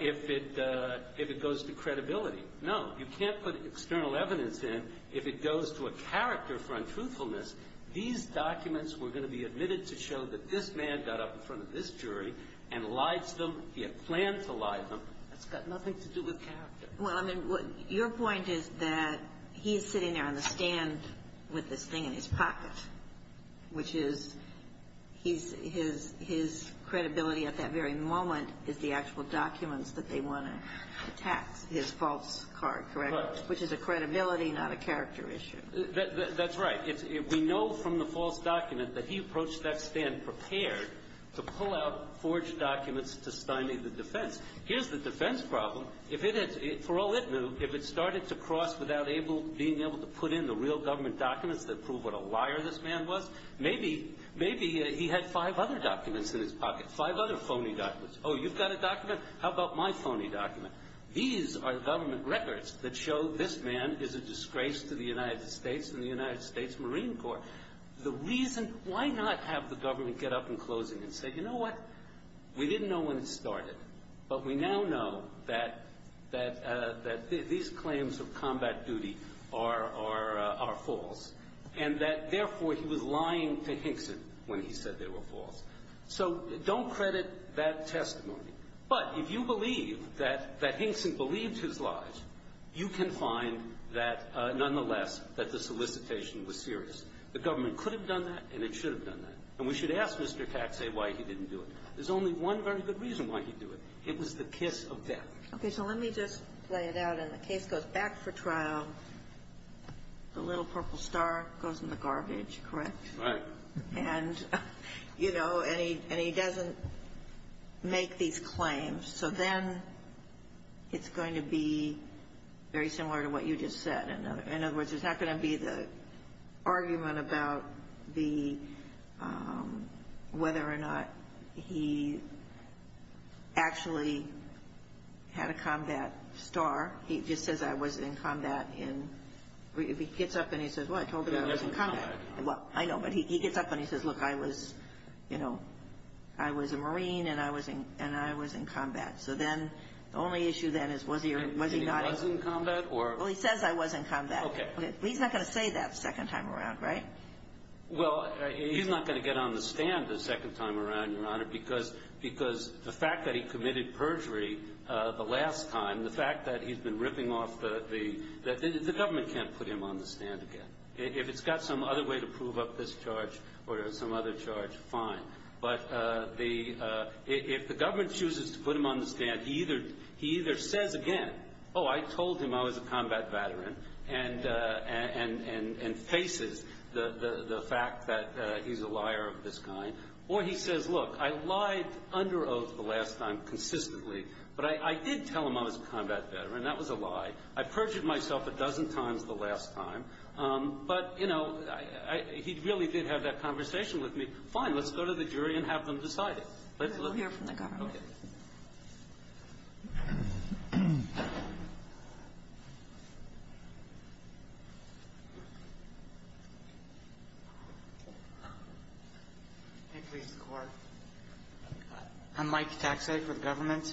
if it goes to credibility. No, you can't put external evidence in if it goes to a character for untruthfulness. These documents were going to be admitted to show that this man got up in front of this jury and lied to them. He had planned to lie to them. It's got nothing to do with character. Well, I mean, your point is that he's sitting there on the stand with the thing in his pocket, which is his credibility at that very moment is the actual documents that they want to attack, his false card, correct? Correct. Which is a credibility, not a character issue. That's right. We know from the false document that he approached that stand prepared to pull out forged documents to standing the defense. Here's the defense problem. For all it knew, if it started to cross without being able to put in the real government documents that prove what a liar this man was, maybe he had five other documents in his pocket, five other phony documents. Oh, you've got a document? How about my phony document? These are government records that show this man is a disgrace to the United States and the United States Marine Corps. Why not have the government get up in closing and say, you know what? We didn't know when it started, but we now know that these claims of combat duty are false, and that, therefore, he was lying to Hinkson when he said they were false. So don't credit that testimony. But if you believe that Hinkson believed his lies, you can find that, nonetheless, that the solicitation was serious. The government could have done that, and it should have done that. And we should ask Mr. Taxay why he didn't do it. There's only one very good reason why he didn't do it. It was the kiss of death. Okay, so let me just say that in the case of back for trial, the little purple star goes in the garbage, correct? Right. And, you know, and he doesn't make these claims. So then it's going to be very similar to what you just said. In other words, it's not going to be the argument about whether or not he actually had a combat star. He just says, I was in combat. If he gets up and he says, well, I told you I was in combat. Well, I know, but he gets up and he says, look, I was, you know, I was a Marine and I was in combat. So then the only issue then is was he not in combat? Well, he says I was in combat. Okay. But he's not going to say that the second time around, right? Well, he's not going to get on the stand the second time around, Your Honor, because the fact that he committed perjury the last time, the fact that he's been ripping off the – the government can't put him on the stand again. If it's got some other way to prove up this charge or some other charge, fine. But if the government chooses to put him on the stand, he either says again, oh, I told him I was a combat veteran, and faces the fact that he's a liar of this kind, or he says, look, I lied under oath the last time consistently, but I did tell him I was a combat veteran. That was a lie. I perjured myself a dozen times the last time. But, you know, he really did have that conversation with me. Fine, let's go to the jury and have them decide it. Let's hear from the government. Okay. Thank you, Your Honor. I'm Mike Taxay from government.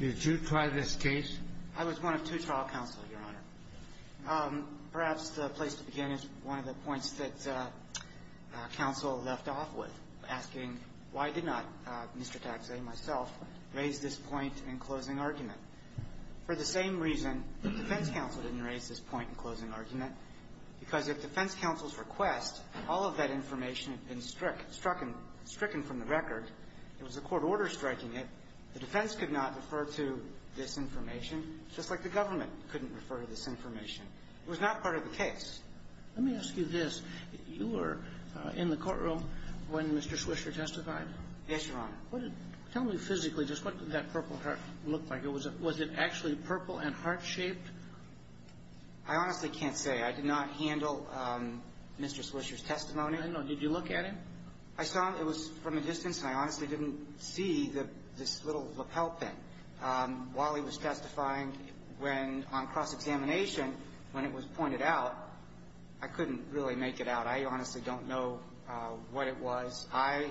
Did you try this case? I was one of two trial counsels, Your Honor. Perhaps the place to begin is one of the points that counsel left off with, asking why did not Mr. Taxay and myself raise this point in closing argument. For the same reason defense counsel didn't raise this point in closing argument, because if defense counsel's request, all of that information had been stricken from the record, there was a court order striking it, the defense could not refer to this information, just like the government couldn't refer to this information. It was not part of the case. Let me ask you this. You were in the courtroom when Mr. Swisher testified? Yes, Your Honor. Tell me physically, just what did that purple heart look like? Was it actually purple and heart-shaped? I honestly can't say. I did not handle Mr. Swisher's testimony. Did you look at him? I saw him. It was from a distance. I honestly didn't see this little lapel thing. While he was testifying on cross-examination, when it was pointed out, I couldn't really make it out. I honestly don't know what it was. I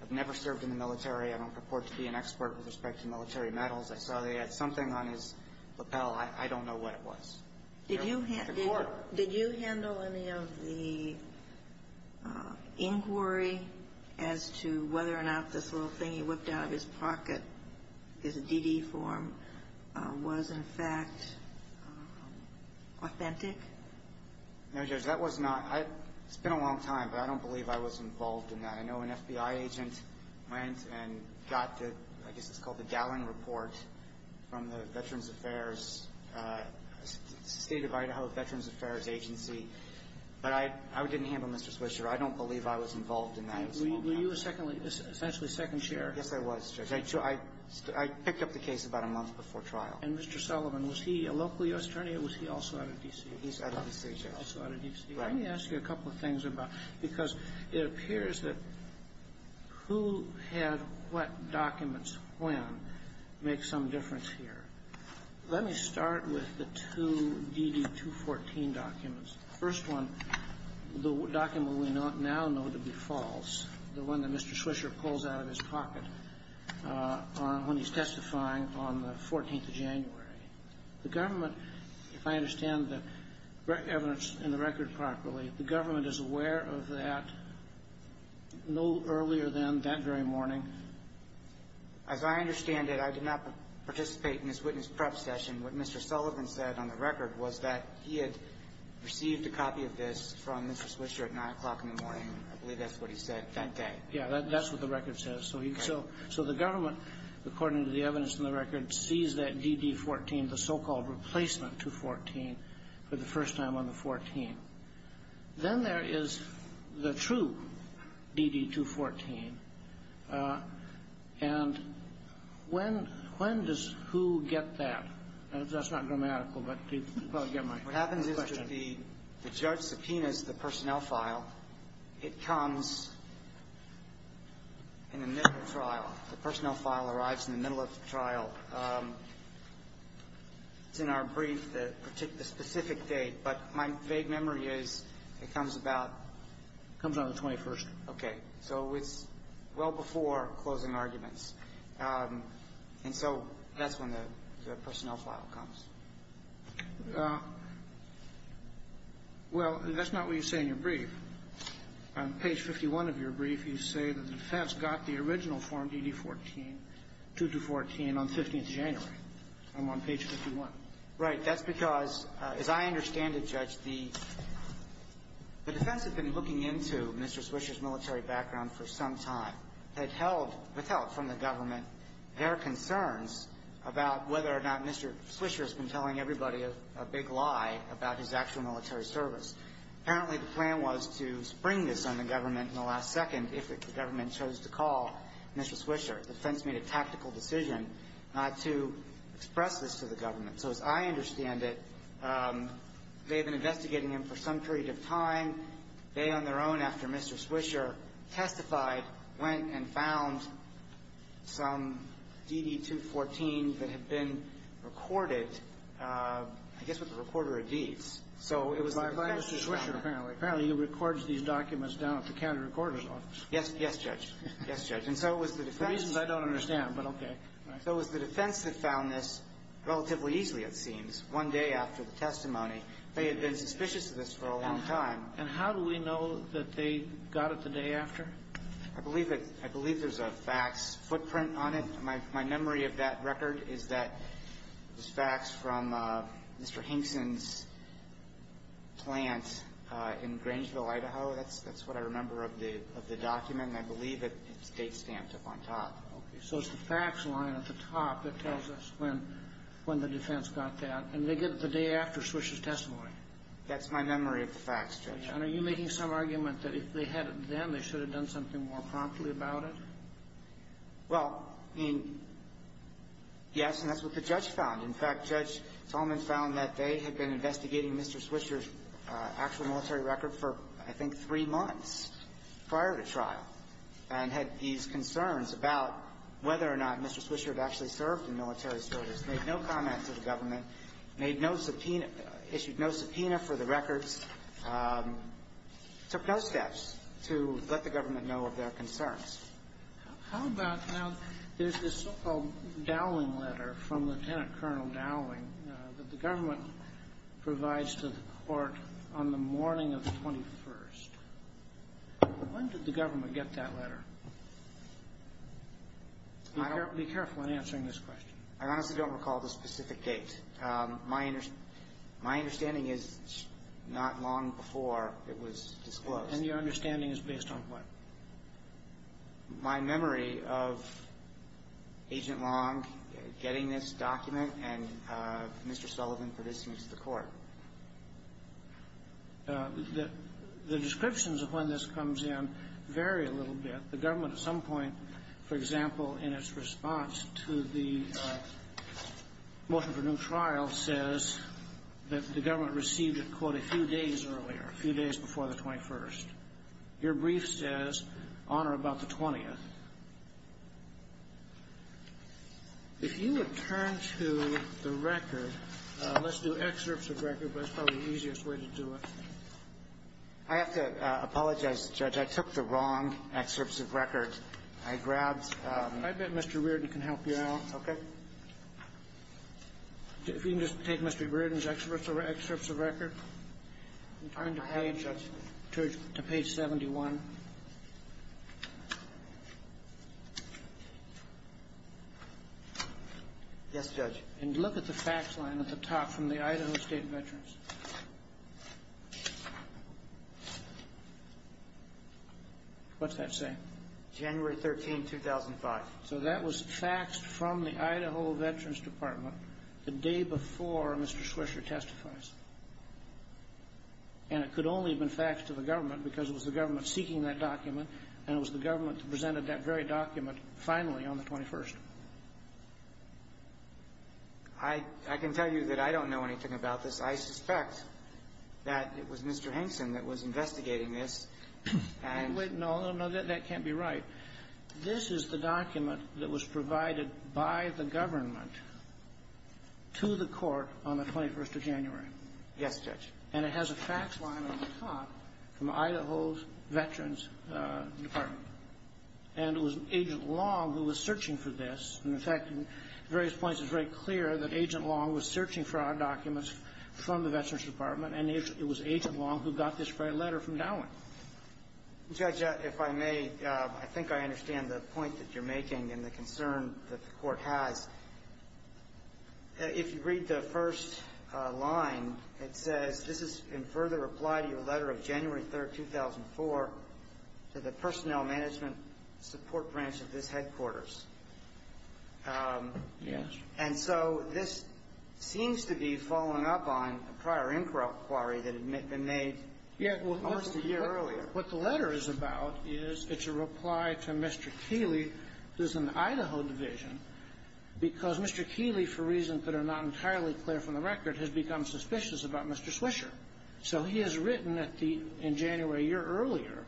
have never served in the military. I don't report to be an expert with respect to military medals. I saw they had something on his lapel. I don't know what it was. Did you handle any of the inquiry as to whether or not this little thing he whipped out of his pocket, his DD form, was in fact authentic? No, Judge, that was not. It's been a long time, but I don't believe I was involved in that. I know an FBI agent went and got the, I guess it's called the Gallon Report from the Veterans Affairs, State of Idaho Veterans Affairs Agency, but I didn't handle Mr. Swisher. I don't believe I was involved in that at all. Were you essentially second chair? Yes, I was, Judge. I picked up the case about a month before trial. And Mr. Sullivan, was he a local U.S. attorney or was he also out of D.C.? He's out of D.C. He's also out of D.C. Let me ask you a couple of things because it appears that who had what documents when makes some difference here. Let me start with the two DD-214 documents. The first one, the document we now know to be false, the one that Mr. Swisher pulls out of his pocket, when he's testifying on the 14th of January. The government, if I understand the evidence in the record properly, the government is aware of that no earlier than that very morning? As I understand it, I did not participate in this witness prep session. What Mr. Sullivan said on the record was that he had received a copy of this from Mr. Swisher at 9 o'clock in the morning. I believe that's what he said that day. Yeah, that's what the record says. So the government, according to the evidence in the record, sees that DD-214, the so-called replacement 214, for the first time on the 14th. Then there is the true DD-214. And when does who get that? That's not grammatical. What happens is that the judge subpoenas the personnel file. It comes in the middle of the trial. The personnel file arrives in the middle of the trial. In our brief, the specific date, but my vague memory is it comes about the 21st. Okay. So it's well before closing arguments. And so that's when the personnel file comes. Well, that's not what you say in your brief. On page 51 of your brief, you say the defense got the original form, DD-214, on 15th January. I'm on page 51. Right. That's because, as I understand it, Judge, the defense had been looking into Mr. Swisher's military background for some time. They had held, without telling the government, their concerns about whether or not Mr. Swisher's been telling everybody a big lie about his actual military service. Apparently, the plan was to spring this on the government in the last second if the government chose to call Mr. Swisher. The defense made a tactical decision not to express this to the government. So, as I understand it, they've been investigating him for some period of time. They, on their own, after Mr. Swisher testified, went and found some DD-214 that had been recorded. I guess it was a recorder of deeds. By Mr. Swisher, apparently. Apparently, he records these documents down if you can't record them all. Yes, Judge. Yes, Judge. For reasons I don't understand, but okay. So it was the defense that found this relatively easily, it seems, one day after the testimony. They had been suspicious of this for a long time. And how do we know that they got it the day after? I believe there's a fax footprint on it. My memory of that record is that it was faxed from Mr. Henson's plant in Grangeville, Idaho. That's what I remember of the document. I believe it's state stamped up on top. Okay, so it's the fax line at the top that tells us when the defense got that. And they did it the day after Swisher's testimony. That's my memory of the fax, Judge. And are you making some argument that if they had it then, they should have done something more promptly about it? Well, yes, and that's what the judge found. In fact, Judge Solomon found that they had been investigating Mr. Swisher's actual military record for, I think, three months prior to trial. And had these concerns about whether or not Mr. Swisher had actually served in military service. Made no comment to the government. Issued no subpoena for the record. Took no steps to let the government know of their concerns. How about how there's this so-called Dowling letter from Lieutenant Colonel Dowling that the government provides to the court on the morning of the 21st. When did the government get that letter? Be careful in answering this question. I honestly don't recall the specific date. My understanding is not long before it was disclosed. And your understanding is based on what? My memory of Agent Long getting this document and Mr. Solomon providing it to the court. The descriptions of when this comes in vary a little bit. The government at some point, for example, in its response to the motive of a new trial says that the government received it, quote, a few days earlier, a few days before the 21st. Your brief says on or about the 20th. If you would turn to the record, let's do excerpts of the record, but that's probably the easiest way to do it. I have to apologize, Judge. I took the wrong excerpts of record. I grabbed... I bet Mr. Reardon can help you out. Okay. If you can just take Mr. Reardon's excerpts of record and turn to page 71. Yes, Judge. And look at the fax line at the top from the Idaho State Veterans. What's that say? January 13, 2005. So that was faxed from the Idaho Veterans Department the day before Mr. Swisher testified. And it could only have been faxed to the government because it was the government seeking that document and it was the government that presented that very document finally on the 21st. I can tell you that I don't know anything about this. I suspect that it was Mr. Henson that was investigating this. No, that can't be right. This is the document that was provided by the government to the court on the 21st of January. Yes, Judge. And it has a fax line at the top from Idaho's Veterans Department. And it was Agent Long who was searching for this. And, in fact, at various points it's very clear that Agent Long was searching for our documents from the Veterans Department and it was Agent Long who got this very letter from Dowling. Judge, if I may, I think I understand the point that you're making and the concern that the court had. If you read the first line, it says, This is in further reply to your letter of January 3, 2004 to the Personnel Management Support Branch of this headquarters. Yes. And so this seems to be following up on a prior inquiry that had been made almost a year earlier. What the letter is about is it's a reply to Mr. Keeley, who is in the Idaho Division, because Mr. Keeley, for reasons that are not entirely clear from the record, has become suspicious about Mr. Swisher. So he has written in January a year earlier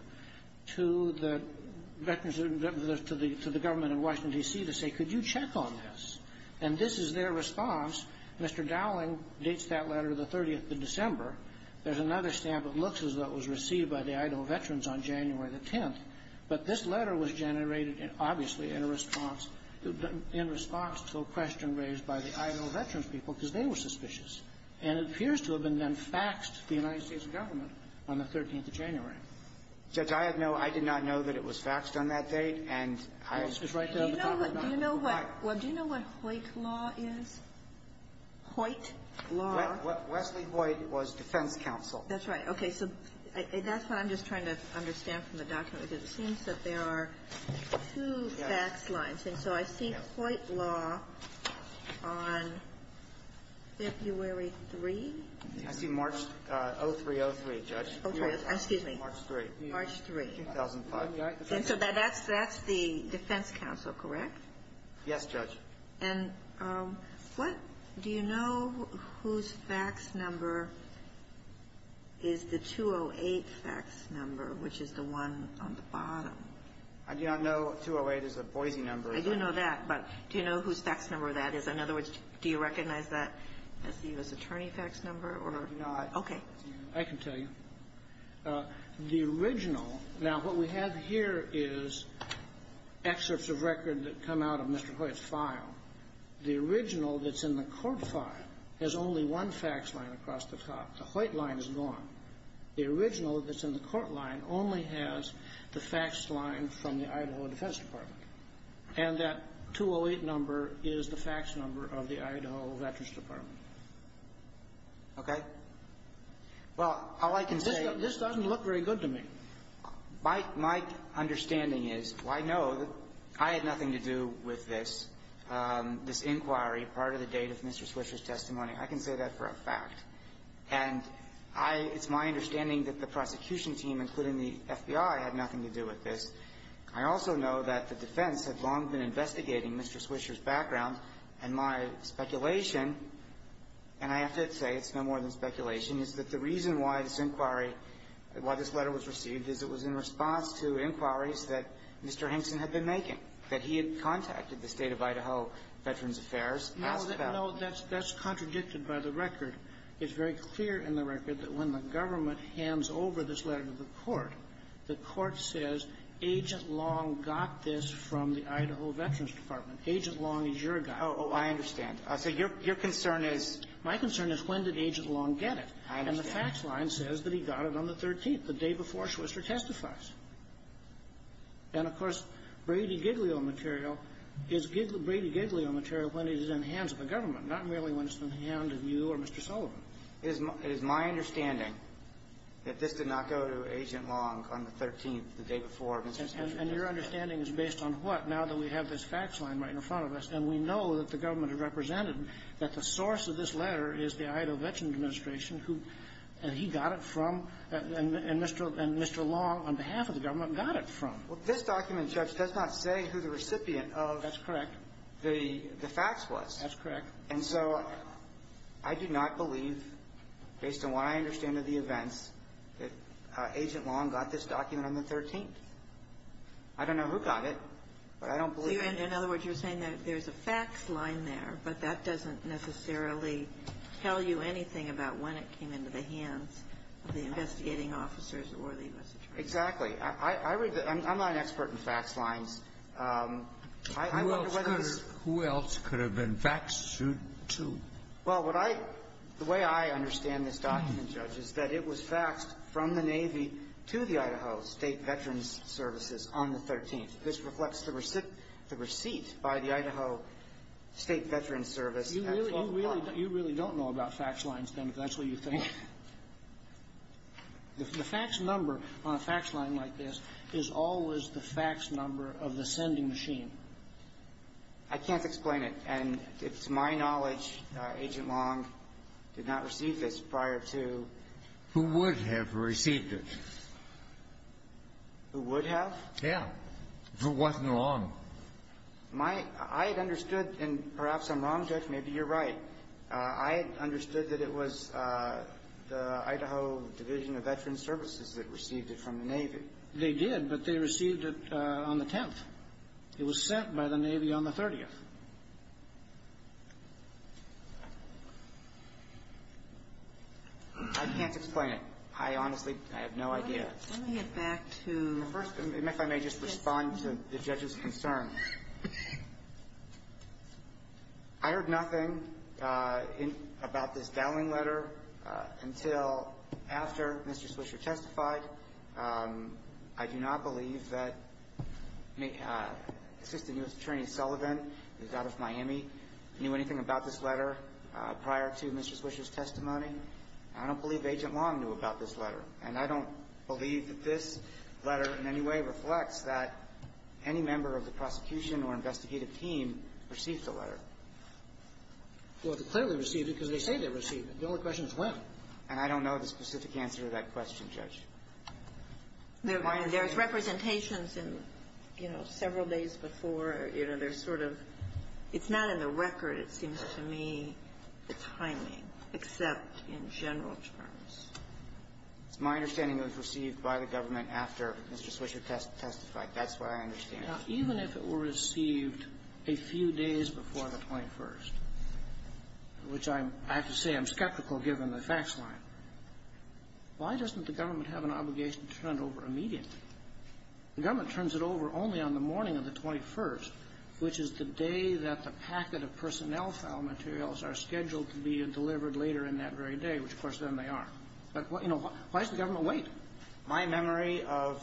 to the government of Washington, D.C. to say, Could you check on this? And this is their response. Mr. Dowling dates that letter the 30th of December. There's another stamp of looks that was received by the Idaho Veterans on January the 10th. But this letter was generated, obviously, in response to a question raised by the Idaho Veterans people because they were suspicious. And it appears to have been then faxed to the United States government on the 13th of January. Judge, I did not know that it was faxed on that date. And I was just right there at the top of my head. Do you know what Hoyt law is? Hoyt law? Wesley Hoyt was defense counsel. That's right. Okay. So that's what I'm just trying to understand from the document, is it seems that there are two fax lines. Okay. So I see Hoyt law on February 3? I see March 03-03, Judge. Okay. Excuse me. March 3. March 3. 2005. So that's the defense counsel, correct? Yes, Judge. And do you know whose fax number is the 208 fax number, which is the one on the bottom? Yeah, I know 208 is a Boise number. I didn't know that, but do you know whose fax number that is? In other words, do you recognize that as the U.S. Attorney fax number? No. Okay. I can tell you. The original, now what we have here is excerpts of records that come out of Mr. Hoyt's file. The original that's in the court file has only one fax line across the top. The Hoyt line is one. The original that's in the court line only has the fax line from the Idaho Defense Department. And that 208 number is the fax number of the Idaho Veterans Department. Okay. Well, all I can say... This doesn't look very good to me. My understanding is, I know I had nothing to do with this inquiry, part of the data from Mr. Swisher's testimony. I can say that for a fact. And it's my understanding that the prosecution team, including the FBI, had nothing to do with this. I also know that the defense has long been investigating Mr. Swisher's background. And my speculation, and I should say it's no more than speculation, is that the reason why this inquiry, why this letter was received, is it was in response to inquiries that Mr. Henson had been making, that he had contacted the State of Idaho Veterans Affairs. No, that's contradicted by the record. It's very clear in the record that when the government hands over this letter to the court, the court says, Agent Long got this from the Idaho Veterans Department. Agent Long is your guy. Oh, I understand. So your concern is... My concern is, when did Agent Long get it? The fax line says that he got it on the 13th, the day before Swisher testifies. And, of course, Brady Giglio material is Brady Giglio material when it is in the hands of the government, not merely when it's in the hands of you or Mr. Sullivan. It is my understanding that this did not go to Agent Long on the 13th, the day before Mr. Sullivan testified. And your understanding is based on what? Now that we have this fax line right in front of us, and we know that the government had represented him, that the source of this letter is the Idaho Veterans Administration, and he got it from, and Mr. Long, on behalf of the government, got it from. This document, Judge, does not say who the recipient of the fax was. That's correct. And so I do not believe, based on what I understand of the events, that Agent Long got this document on the 13th. I don't know who got it, but I don't believe it. In other words, you're saying that there's a fax line there, but that doesn't necessarily tell you anything about when it came into the hands of the investigating officers or the investigators. Exactly. I'm not an expert in fax lines. Who else could it have been faxed to? Well, the way I understand this document, Judge, is that it was faxed from the Navy to the Idaho State Veterans Services on the 13th. This reflects the receipt by the Idaho State Veterans Service. You really don't know about fax lines, then, because that's what you think. The fax number on a fax line like this is always the fax number of the sending machine. I can't explain it, and to my knowledge, Agent Long did not receive this prior to... Who would have received it? Who would have? Tim, you're walking along. I understood, and perhaps I'm wrong, Judge, maybe you're right. I understood that it was the Idaho Division of Veterans Services that received it from the Navy. They did, but they received it on the 10th. It was sent by the Navy on the 30th. I can't explain it. I honestly have no idea. Let me get back to... First, if I may just respond to the judge's concerns. I heard nothing about this dowling letter until after Mr. Swisher testified. I do not believe that Assistant U.S. Attorney Sullivan, who's out of Miami, knew anything about this letter prior to Mr. Swisher's testimony. And I don't believe Agent Long knew about this letter. And I don't believe that this letter in any way reflects that any member of the prosecution or investigative team received the letter. Well, they clearly received it because they say they received it. The only question is when. And I don't know the specific answer to that question, Judge. There were representations several days before. It's not in the record, it seems to me, the timing, except in general terms. It's my understanding it was received by the government after Mr. Swisher testified. That's what I understand. Even if it were received a few days before the 21st, which I have to say I'm skeptical given the facts line, why doesn't the government have an obligation to turn it over immediately? The government turns it over only on the morning of the 21st, which is the day that the packet of personnel file materials are scheduled to be delivered later in that very day, which, of course, then they are. Why does the government wait? My memory of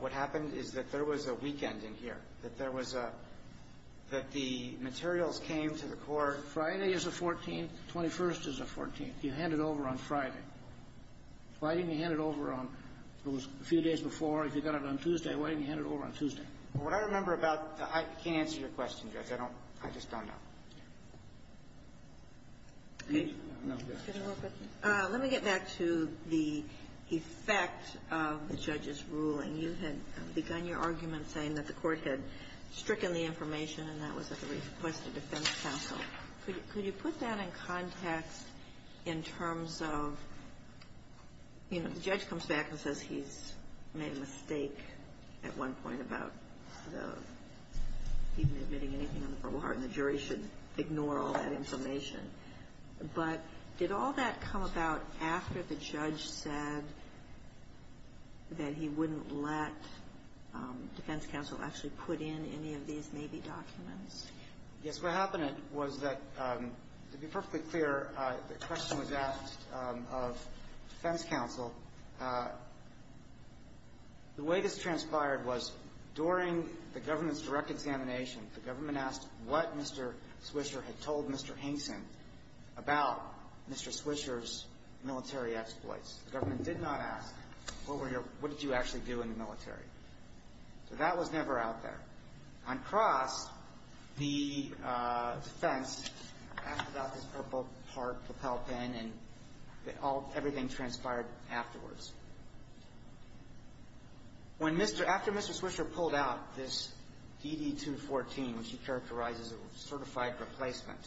what happened is that there was a weekend in here, that the materials came to the court Friday as the 14th, 21st as the 14th. You hand it over on Friday. Why didn't you hand it over a few days before? If you got it on Tuesday, why didn't you hand it over on Tuesday? What I remember about the – I can't answer your question, Judge. I don't – I just don't know. Let me get back to the effect of the judge's ruling. You had begun your argument saying that the court had stricken the information and that was a request to defense counsel. Could you put that in context in terms of, you know, the judge comes back and says he's made a mistake at one point about the – he's not admitting anything before the court and the jury should ignore all that information. But did all that come about after the judge said that he wouldn't let defense counsel actually put in any of these maybe documents? Yes. What happened was that, to be perfectly clear, the question was asked of defense counsel. The way this transpired was during the government's direct examination, the government asked what Mr. Swisher had told Mr. Hinson about Mr. Swisher's military exploits. The government did not ask, what were your – what did you actually do in the military? So that was never out there. On cross, the defense asked about this purple part, the pelican, and everything transpired afterwards. When Mr. – after Mr. Swisher pulled out this ED-214, which he characterizes as a certified replacement,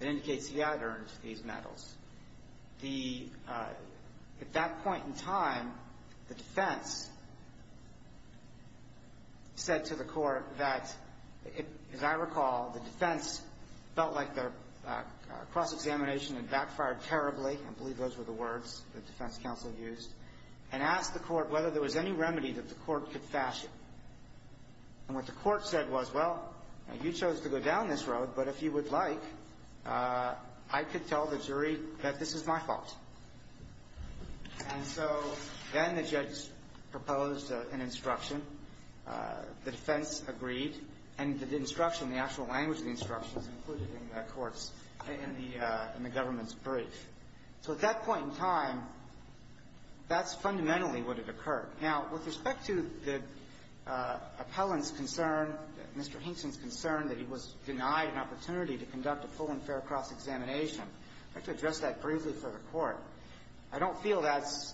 it indicates he out-earned these medals. The – at that point in time, the defense said to the court that, as I recall, the defense felt like a cross-examination and backfired terribly – I believe those were the words that defense counsel used – and asked the court whether there was any remedy that the court could fashion. And what the court said was, well, you chose to go down this road, but if you would like, I could tell the jury that this is my fault. And so then the judge proposed an instruction. The defense agreed, and the instruction, the actual language of the instruction, was included in that court's – in the government's brief. So at that point in time, that's fundamentally what had occurred. Now, with respect to the appellant's concern, Mr. Hinton's concern, that he was denied an opportunity to conduct a full and fair cross-examination, I could address that briefly for the court. I don't feel that's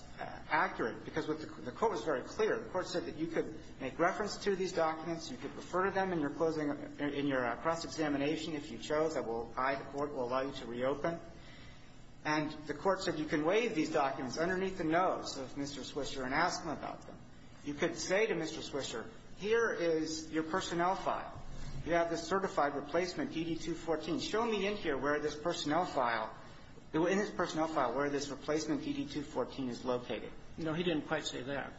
accurate because the court was very clear. The court said that you could make reference to these documents, you could refer to them in your closing – in your cross-examination if you chose. I will – I, the court, will allow you to reopen. And the court said you can waive these documents underneath the nose of Mr. Swisher and ask him about them. You could say to Mr. Swisher, here is your personnel file. You have the certified replacement DD-214. Show me in here where this personnel file – in his personnel file, where this replacement DD-214 is located. No, he didn't quite say that.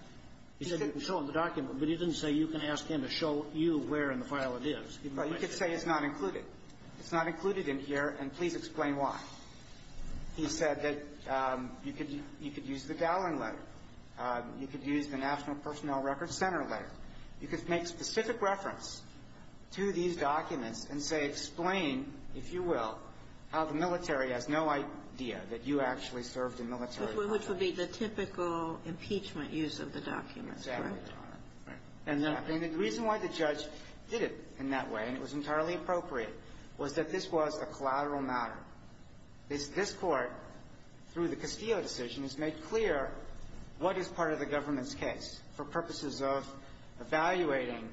He said you can show him the document, but he didn't say you can ask him to show you where in the file it is. But you could say it's not included. It's not included in here, and please explain why. He said that you could use the Dowling letter. You could use the National Personnel Records Center letter. You could make specific reference to these documents and say explain, if you will, how the military has no idea that you actually served in military. Which would be the typical impeachment use of the documents. Exactly. And the reason why the judge did it in that way, and it was entirely appropriate, was that this was a collateral matter. This court, through the Castillo decision, has made clear what is part of the government's case for purposes of evaluating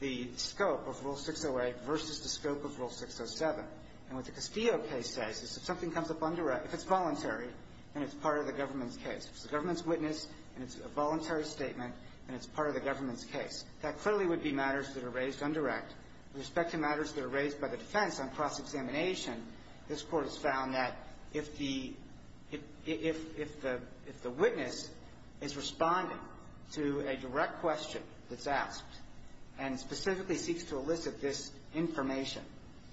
the scope of Rule 608 versus the scope of Rule 607. And what the Castillo case says is if something comes up undirected, if it's voluntary, then it's part of the government's case. It's the government's witness, and it's a voluntary statement, and it's part of the government's case. That clearly would be matters that are raised undirect, in respect to matters that are raised by the defense on cross-examination. This court has found that if the witness is responding to a direct question that's asked and specifically seeks to elicit this information,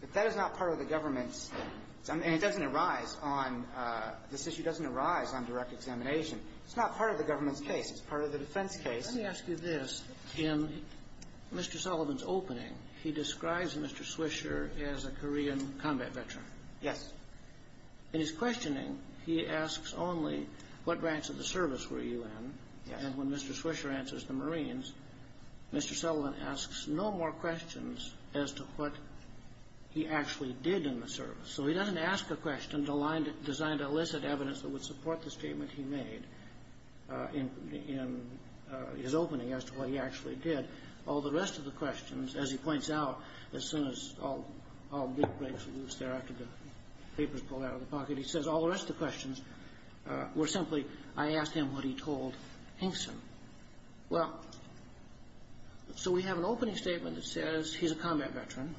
if that is not part of the government's case, and this issue doesn't arise on direct examination, it's not part of the government's case. It's part of the defense's case. Let me ask you this. In Mr. Sullivan's opening, he describes Mr. Swisher as a Korean combat veteran. Yes. In his questioning, he asks only, what branch of the service were you in? And when Mr. Swisher answers, the Marines, Mr. Sullivan asks no more questions as to what he actually did in the service. So he doesn't ask a question designed to elicit evidence that would support the statement he made in his opening as to what he actually did. All the rest of the questions, as he points out, as soon as all the big breaks loose there after the paper's pulled out of the pocket, he says all the rest of the questions were simply, I asked him what he told Hinkson. Well, so we have an opening statement that says he's a combat veteran.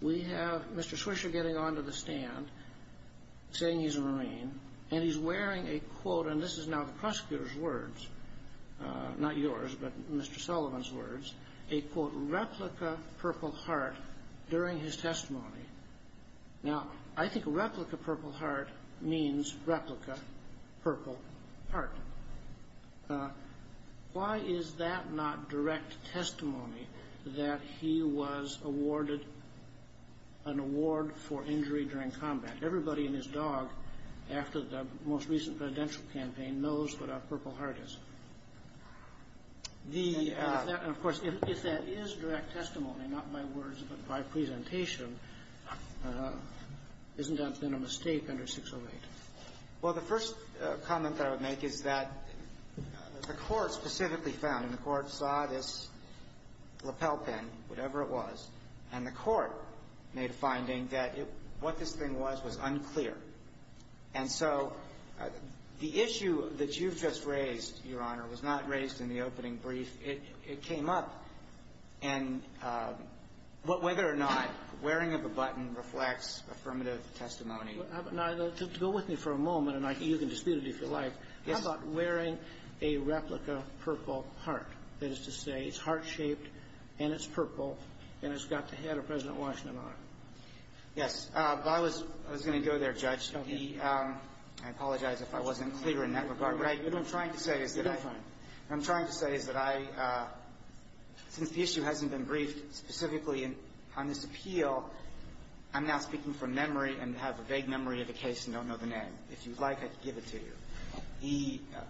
We have Mr. Swisher getting onto the stand, saying he's a Marine, and he's wearing a quote, and this is now the prosecutor's words, not yours, but Mr. Sullivan's words, a quote, replica purple heart during his testimony. Now, I think replica purple heart means replica purple heart. Why is that not direct testimony that he was awarded an award for injury during combat? Everybody and his dog, after the most recent presidential campaign, knows what a purple heart is. Of course, if that is direct testimony, not my words but my presentation, isn't that then a mistake under 608? Well, the first comment that I would make is that the court specifically found, and the court saw this lapel pin, whatever it was, and the court made a finding that what this thing was was unclear. And so the issue that you just raised, Your Honor, was not raised in the opening brief. It came up, and whether or not wearing of a button reflects affirmative testimony. Now, go with me for a moment, and you can dispute it if you like. How about wearing a replica purple heart? That is to say it's heart-shaped, and it's purple, and it's got the head of President Washington on it. Yes. I was going to go there, Judge. I apologize if I wasn't clear in that regard. What I'm trying to say is that since the issue hasn't been briefed specifically on this appeal, I'm now speaking from memory and have a vague memory of the case and don't know the name. If you'd like, I can give it to you.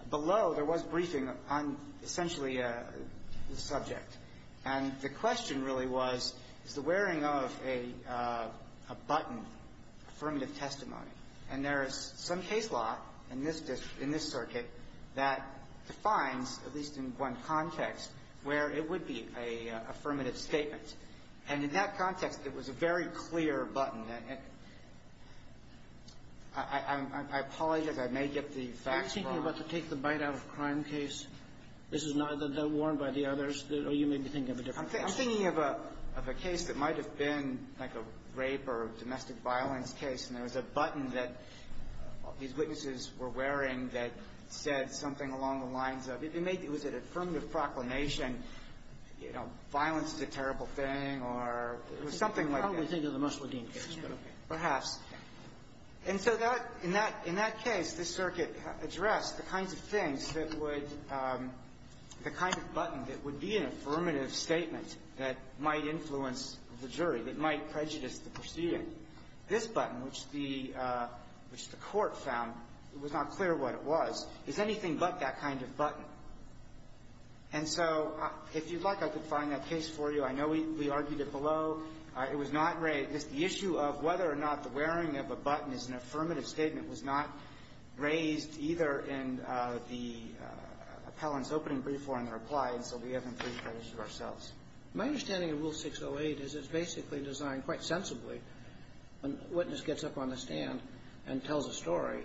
Below, there was briefing on essentially a subject, and the question really was the wearing of a button, affirmative testimony. And there is some case law in this circuit that defines, at least in one context, where it would be an affirmative statement. And in that context, it was a very clear button. I apologize if I may get the facts wrong. Are you thinking about the take-the-bite-out-of-crime case? This is not the one by the others? Or are you maybe thinking of a different case? I'm thinking of a case that might have been like a rape or domestic violence case, and there was a button that these witnesses were wearing that said something along the lines of Was it an affirmative proclamation, you know, violence is a terrible thing, or something like this? You're probably thinking of the Musch Ledeen case. Perhaps. And so in that case, the circuit addressed the kinds of things that would be an affirmative statement that might influence the jury, that might prejudice the proceedings. This button, which the court found, it was not clear what it was. It's anything but that kind of button. And so if you'd like, I could find that case for you. I know we argued it below. It was not raised. The issue of whether or not the wearing of a button is an affirmative statement was not raised either in the appellant's opening brief or in the reply, and so we have them pre-posed to ourselves. My understanding of Rule 608 is it's basically designed quite sensibly. A witness gets up on the stand and tells a story.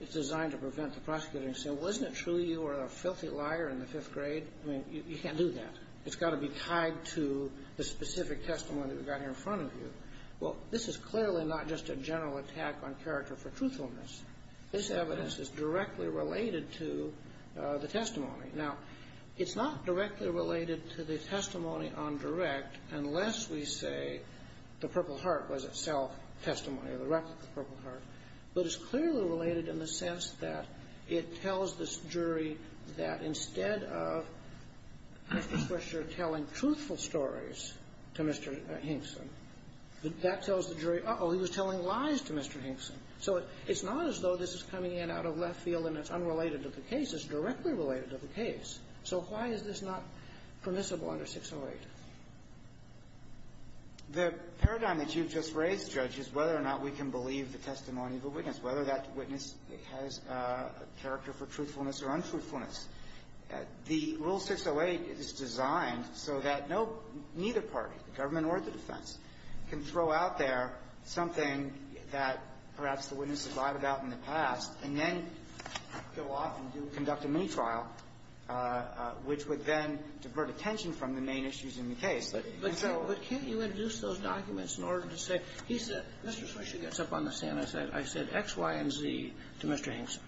It's designed to prevent the prosecutor from saying, Well, isn't it true you were a filthy liar in the fifth grade? I mean, you can't do that. It's got to be tied to the specific testimony that we've got here in front of you. Well, this is clearly not just a general attack on character for truthfulness. This evidence is directly related to the testimony. Now, it's not directly related to the testimony on direct unless we say the Purple Heart was itself testimony of the record of the Purple Heart, but it's clearly related in the sense that it tells the jury that instead of the prosecutor telling truthful stories to Mr. Hinkson, that tells the jury, Uh-oh, he was telling lies to Mr. Hinkson. So it's not as though this is coming in out of left field and it's unrelated to the case. This is directly related to the case. So why is this not permissible under 608? The paradigm that you've just raised, Judge, is whether or not we can believe the testimony of a witness, whether that witness has a character for truthfulness or untruthfulness. The rule 608 is designed so that neither party, government or the defense, can throw out there something that perhaps the witness has lied about in the past and then go off and conduct a mini-trial, which would then divert attention from the main issues in the case. But can't you introduce those documents in order to say, he said, Mr. Fisher gets up on the stand, I said, I said, X, Y, and Z to Mr. Hinkson.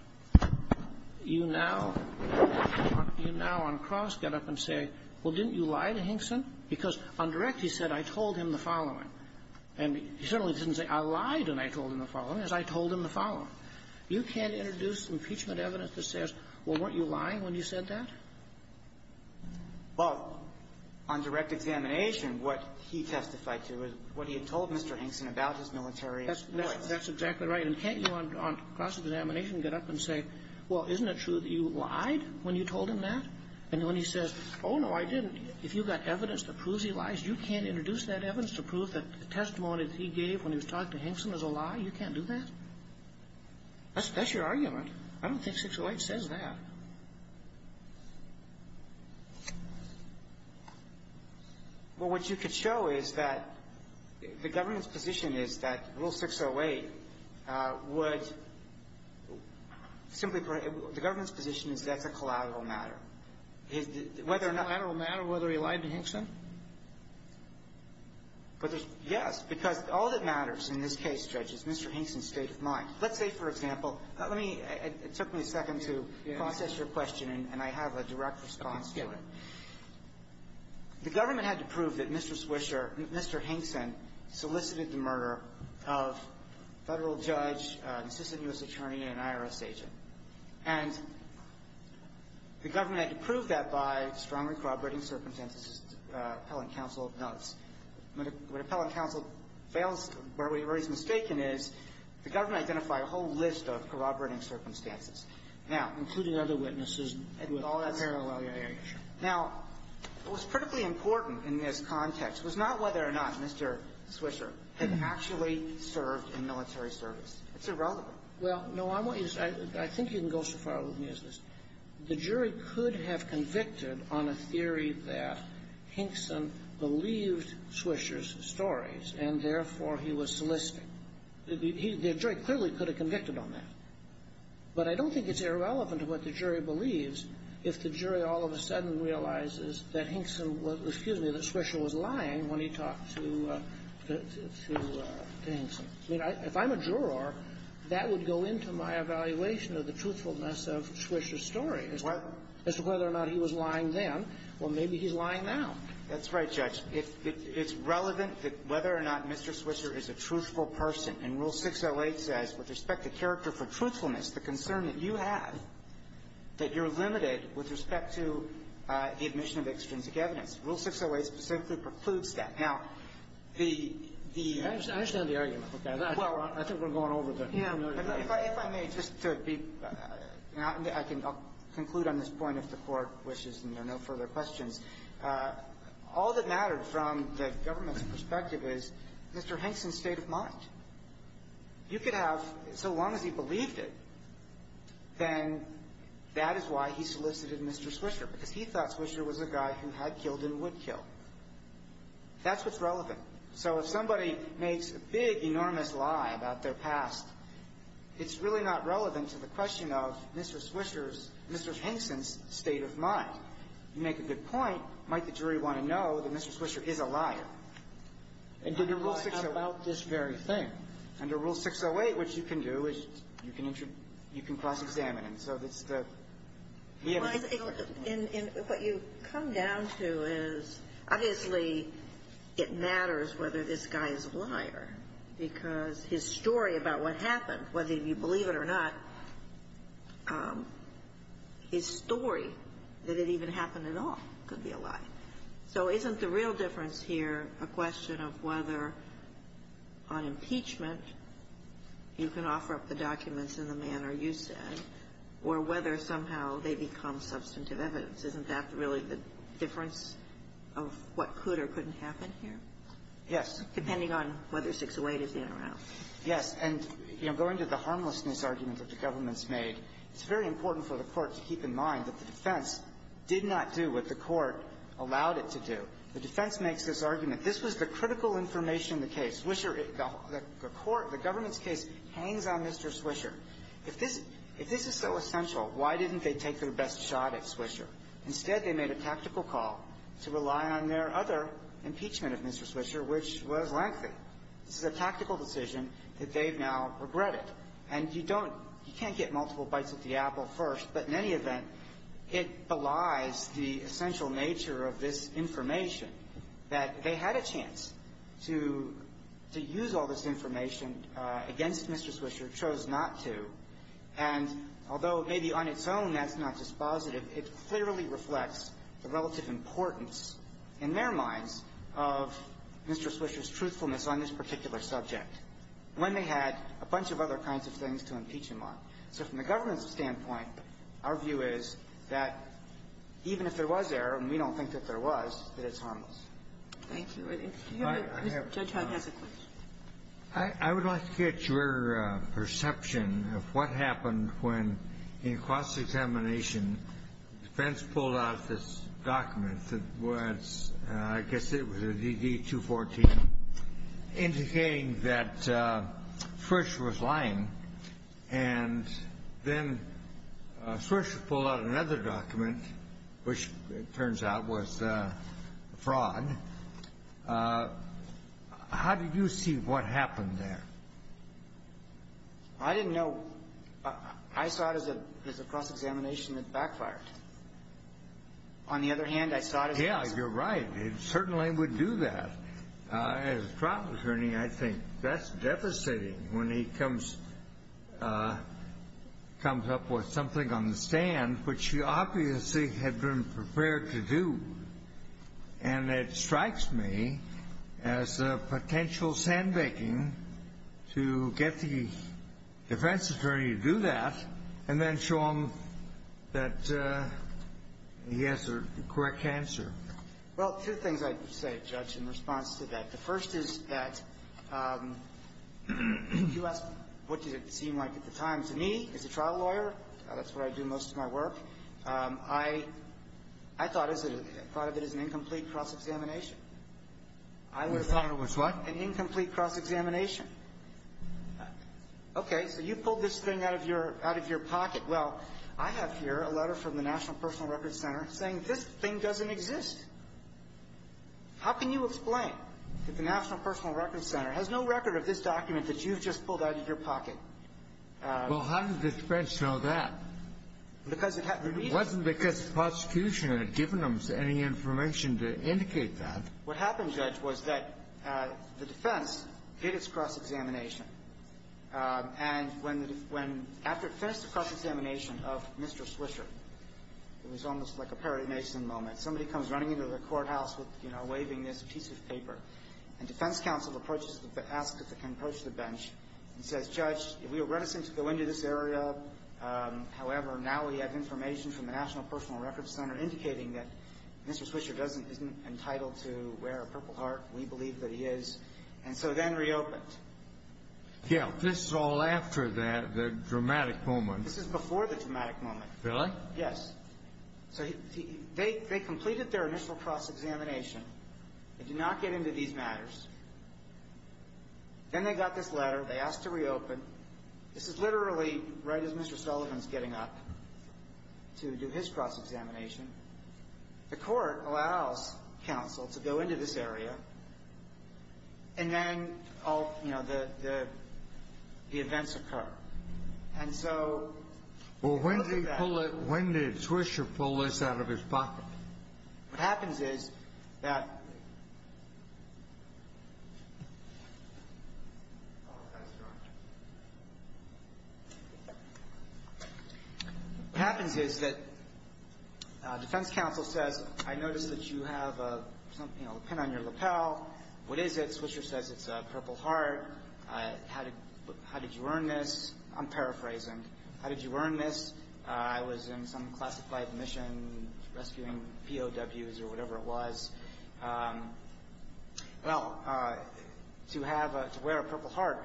You now on cross get up and say, well, didn't you lie to Hinkson? Because on direct he said, I told him the following. You can't introduce impeachment evidence that says, well, weren't you lying when you said that? Well, on direct examination, what he testified to is what he had told Mr. Hinkson about his military experience. That's exactly right. And can't you on cross examination get up and say, well, isn't it true that you lied when you told him that? And when he says, oh, no, I didn't. If you've got evidence that proves he lies, you can't introduce that evidence to prove that the testimony that he gave when he was talking to Hinkson is a lie, you can't do that? That's your argument. I don't think 608 says that. Well, what you could show is that the government's position is that Rule 608 was simply for the government's position is that the collateral matter. Yes. Because all that matters in this case, Judge, is Mr. Hinkson's state of mind. Let's say, for example, it took me a second to process your question and I have a direct response to it. The government had to prove that Mr. Swisher, Mr. Hinkson, solicited the murder of a federal judge, an assistant U.S. attorney, and an IRS agent. And the government had to prove that by strongly corroborating circumstances appellant counsel notes. When appellant counsel fails, where he's mistaken is the government identified a whole list of corroborating circumstances, including other witnesses and all that parallel. Now, what's critically important in this context was not whether or not Mr. Swisher had actually served in military service. Well, no, I think you can go so far as the jury could have convicted on a theory that Hinkson believed Swisher's stories, and therefore he was soliciting. The jury clearly could have convicted on that. But I don't think it's irrelevant to what the jury believes if the jury all of a sudden realizes that Swisher was lying when he talked to Hinkson. If I'm a juror, that would go into my evaluation of the truthfulness of Swisher's story as to whether or not he was lying then, or maybe he's lying now. That's right, Judge. It's relevant that whether or not Mr. Swisher is a truthful person. And Rule 608 says, with respect to character for truthfulness, the concern that you have that you're limited with respect to the admission of extrinsic evidence. Rule 608 simply precludes that. Now, the— I understand the argument for that. I think we're going over the— If I may, just to be—I'll conclude on this point if the Court wishes, and there are no further questions. All that matters from the government's perspective is Mr. Hinkson's state of mind. If you could have so long as he believed it, then that is why he solicited Mr. Swisher. But if he thought Swisher was a guy who had killed and would kill, that's what's relevant. So if somebody makes a big, enormous lie about their past, it's really not relevant to the question of Mr. Swisher's—Mr. Hinkson's state of mind. You make a good point, might the jury want to know that Mr. Swisher is a liar? And to the rule about this very thing. Under Rule 608, what you can do is you can cross-examine him. What you've come down to is, obviously, it matters whether this guy is a liar because his story about what happened, whether you believe it or not, his story, that it even happened at all, could be a lie. So isn't the real difference here a question of whether, on impeachment, you can offer up the documents in the manner you said, or whether somehow they become substantive evidence? Isn't that really the difference of what could or couldn't happen here? Yes. Depending on whether 608 is in or out. Yes, and going to the harmlessness argument that the government's made, it's very important for the court to keep in mind that the defense did not do what the court allowed it to do. The defense makes this argument. This is the critical information in the case. Swisher, it felt. The court, the government's case, depends on Mr. Swisher. If this is so essential, why didn't they take their best shot at Swisher? Instead, they made a tactical call to rely on their other impeachment of Mr. Swisher, which was lengthy. This is a tactical decision that they've now regretted. And you don't, you can't get multiple bites of the apple first, but in any event, it belies the essential nature of this information that they had a chance to use all this information against Mr. Swisher, chose not to, and although maybe on its own that's not dispositive, it clearly reflects the relative importance in their minds of Mr. Swisher's truthfulness on this particular subject when they had a bunch of other kinds of things to impeach him on. So from the government's standpoint, our view is that even if there was error, and we don't think that there was, that it's harmless. Thank you. I have a question. Judge Hart has a question. I would like to get your perception of what happened when, in cross-examination, Spence pulled out this document that was, I guess it was a DD-214, indicating that Swisher was lying. And then Swisher pulled out another document, which it turns out was fraud. How did you see what happened there? I didn't know. I saw it as a cross-examination that backfired. On the other hand, I saw it as- Yeah, you're right. He certainly would do that. As a trial attorney, I think that's devastating when he comes up with something on the stand, which he obviously had been prepared to do. And it strikes me as a potential sandbaking to get the defense attorney to do that and then show him that he has the correct answer. Well, two things I can say, Judge, in response to that. The first is that you asked what did it seem like at the time. To me, as a trial lawyer, that's where I do most of my work, I thought of it as an incomplete cross-examination. You thought it was what? An incomplete cross-examination. Okay, so you pulled this thing out of your pocket. Well, I have here a letter from the National Personal Records Center saying this thing doesn't exist. How can you explain that the National Personal Records Center has no record of this document that you've just pulled out of your pocket? Well, how did the defense know that? It wasn't because the prosecution had given them any information to indicate that. What happened, Judge, was that the defense did its cross-examination. And after it finished the cross-examination of Mr. Swisher, it was almost like a pardonation moment, somebody comes running into the courthouse waving this piece of paper, and defense counsel approaches the bench and says, Judge, we were going to go into this area, however, now we have information from the National Personal Records Center indicating that Mr. Swisher isn't entitled to wear a Purple Heart, we believe that he is, and so then reopened. Yeah, this is all after the dramatic moment. This is before the dramatic moment. Really? Yes. So they completed their initial cross-examination. They did not get into these matters. Then they got this letter, they asked to reopen. This is literally right as Mr. Sullivan's getting up to do his cross-examination. The court allows counsel to go into this area, and then the events occur. And so, look at that. Well, when did Swisher pull this out of his pocket? What happens is that the defense counsel says, I noticed that you have something on your lapel. What is it? Swisher says it's a Purple Heart. How did you earn this? I'm paraphrasing. How did you earn this? I was in some classified mission rescuing POWs or whatever it was. To wear a Purple Heart,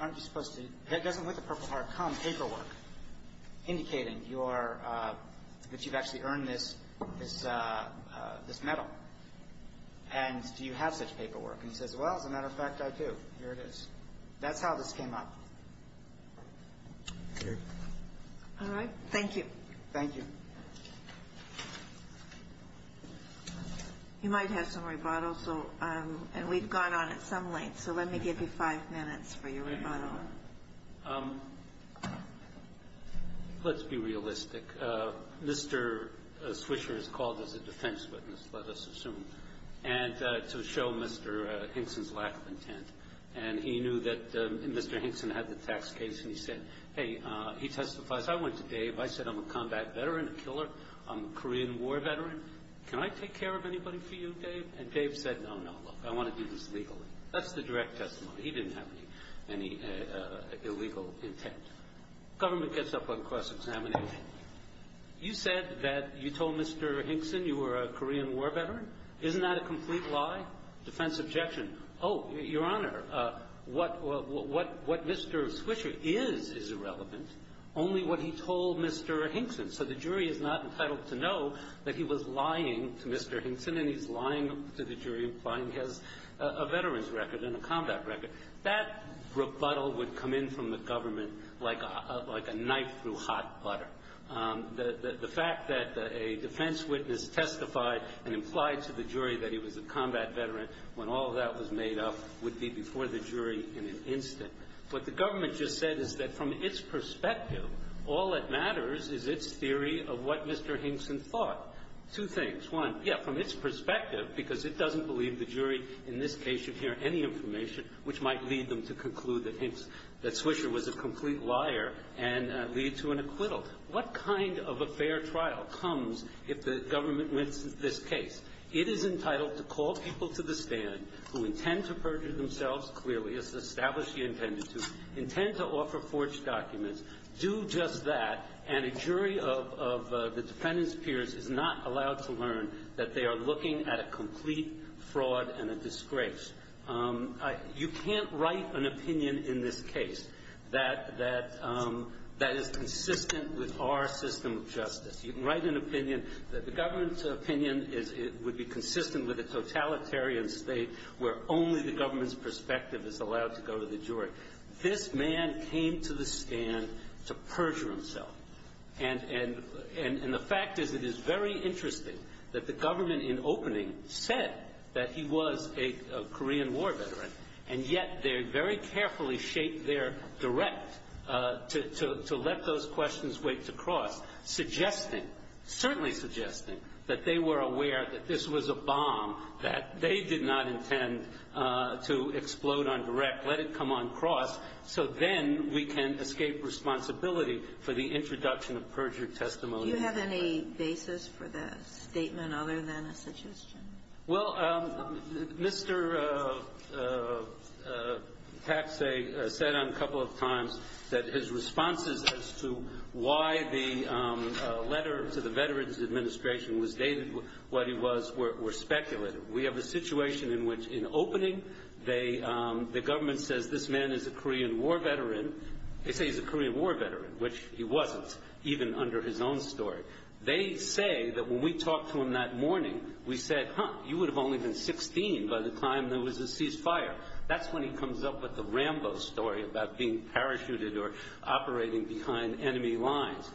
aren't you supposed to? Doesn't a Purple Heart come with paperwork indicating that you've actually earned this medal? And do you have such paperwork? He says, well, as a matter of fact, I do. Here it is. That's how this came up. All right. Thank you. Thank you. You might have some rebuttals, and we've gone on at some length, so let me give you five minutes for your rebuttal. Let's be realistic. Mr. Swisher has called us a defense witness, let us assume, and to show Mr. Hinson's lack of intent. And he knew that Mr. Hinson had the tax case, and he said, hey, he testifies. I went to Dave. I said, I'm a combat veteran, a killer. I'm a Korean War veteran. Can I take care of anybody for you, Dave? And Dave said, no, no, look, I want to do this legally. That's the direct testimony. He didn't have any illegal intent. The government gets up on cross-examination. You said that you told Mr. Hinson you were a Korean War veteran. Isn't that a complete lie? Defense objection. Oh, Your Honor, what Mr. Swisher is, is irrelevant. Only what he told Mr. Hinson. So the jury is not entitled to know that he was lying to Mr. Hinson, and he's lying to the jury, lying to a veteran's record and a combat record. That rebuttal would come in from the government like a knife through hot butter. The fact that a defense witness testified and implied to the jury that he was a combat veteran when all of that was made up would be before the jury in an instant. What the government just said is that from its perspective, all that matters is its theory of what Mr. Hinson thought. Two things. One, yeah, from its perspective, because it doesn't believe the jury, in this case, should hear any information which might lead them to conclude that Swisher was a complete liar and lead to an acquittal. So what kind of a fair trial comes if the government wins this case? It is entitled to call people to the stand who intend to purge themselves clearly, establish the intent to, intend to offer forged documents, do just that, and a jury of the defendant's peers is not allowed to learn that they are looking at a complete fraud and a disgrace. You can't write an opinion in this case that is consistent with our system of justice. You can write an opinion that the government's opinion would be consistent with a totalitarian state where only the government's perspective is allowed to go to the jury. This man came to the stand to purge himself. And the fact is it is very interesting that the government in opening said that he was a Korean War veteran, and yet they very carefully shaped their direct to let those questions wait to cross, suggesting, certainly suggesting, that they were aware that this was a bomb, that they did not intend to explode on direct, let it come on cross, so then we can escape responsibility for the introduction of perjured testimony. Do you have any basis for that statement other than a suggestion? Well, Mr. Katsay said on a couple of times that his responses as to why the letter to the Veterans Administration was dated what it was were speculative. We have a situation in which in opening the government says this man is a Korean War veteran. They say he's a Korean War veteran, which he wasn't, even under his own story. They say that when we talked to him that morning, we said, huh, you would have only been 16 by the time there was a ceasefire. That's when he comes up with the Rambo story about being parachuted or operating behind enemy lines.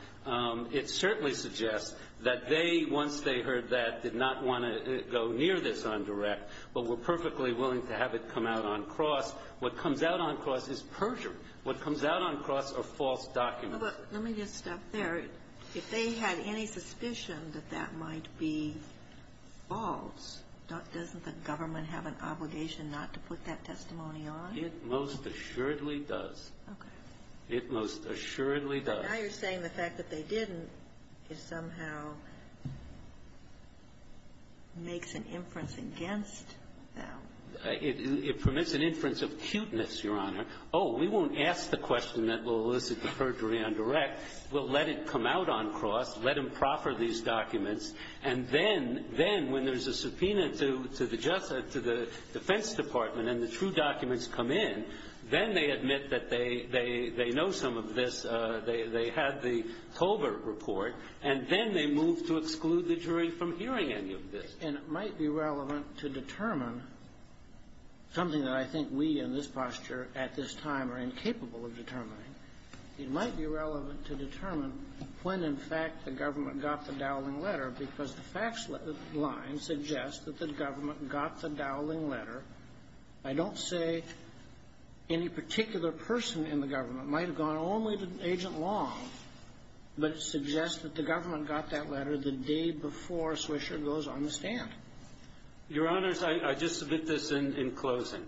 It certainly suggests that they, once they heard that, did not want to go near this on direct, but were perfectly willing to have it come out on cross. What comes out on cross is perjured. What comes out on cross are false documents. Let me just stop there. If they have any suspicion that that might be false, doesn't the government have an obligation not to put that testimony on? It most assuredly does. Okay. It most assuredly does. So now you're saying the fact that they didn't is somehow makes an inference against them. It permits an inference of cuteness, Your Honor. Oh, we won't ask the question that will elicit the perjury on direct. We'll let it come out on cross, let them proper these documents, and then when there's a subpoena to the defense department and the true documents come in, then they admit that they know some of this, they have the Colbert report, and then they move to exclude the jury from hearing any of this. And it might be relevant to determine, something that I think we in this posture at this time are incapable of determining, it might be relevant to determine when, in fact, the government got the Dowling letter because the facts line suggests that the government got the Dowling letter. I don't say any particular person in the government. It might have gone only to Agent Long, but it suggests that the government got that letter the day before Swisher goes on the stand. Your Honors, I just submit this in closing.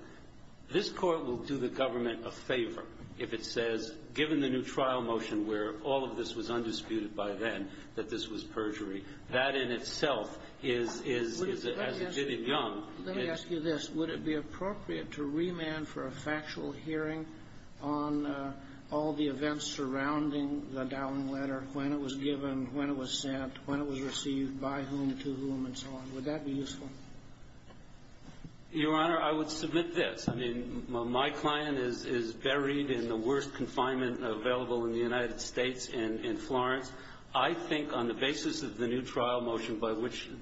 This court will do the government a favor if it says, given the new trial motion where all of this was undisputed by then that this was perjury, that in itself is, as it did in Young. Let me ask you this. Would it be appropriate to remand for a factual hearing on all the events surrounding the Dowling letter, when it was given, when it was sent, when it was received, by whom, to whom, and so on? Would that be useful? Your Honor, I would submit this. My client is buried in the worst confinement available in the United States in Florence. I think on the basis of the new trial motion, by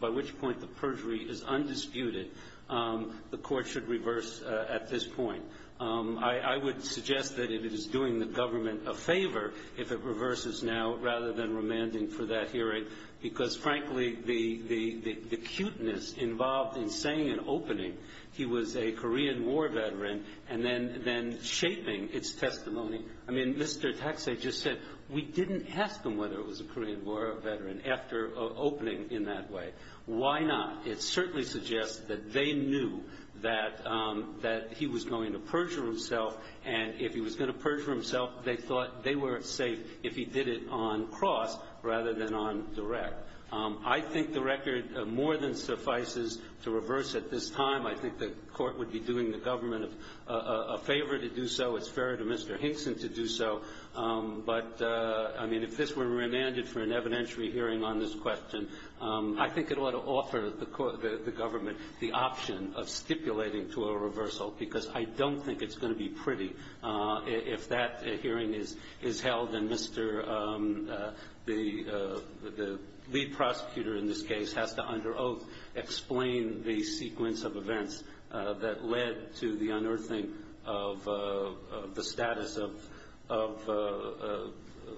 which point the perjury is undisputed, the court should reverse at this point. I would suggest that it is doing the government a favor if it reverses now rather than remanding for that hearing because, frankly, the cuteness involved in saying in opening he was a Korean War veteran and then shaping its testimony. I mean, Mr. Taxei just said we didn't ask him whether he was a Korean War veteran after opening in that way. Why not? It certainly suggests that they knew that he was going to perjure himself, and if he was going to perjure himself, they thought they were safe if he did it on cross rather than on direct. I think the record more than suffices to reverse at this time. I think the court would be doing the government a favor to do so. It's fair to Mr. Hickson to do so, but, I mean, if this were remanded for an evidentiary hearing on this question, I think it ought to offer the government the option of stipulating to a reversal because I don't think it's going to be pretty if that hearing is held and the lead prosecutor in this case has to, under oath, explain the sequence of events that led to the unearthing of the status of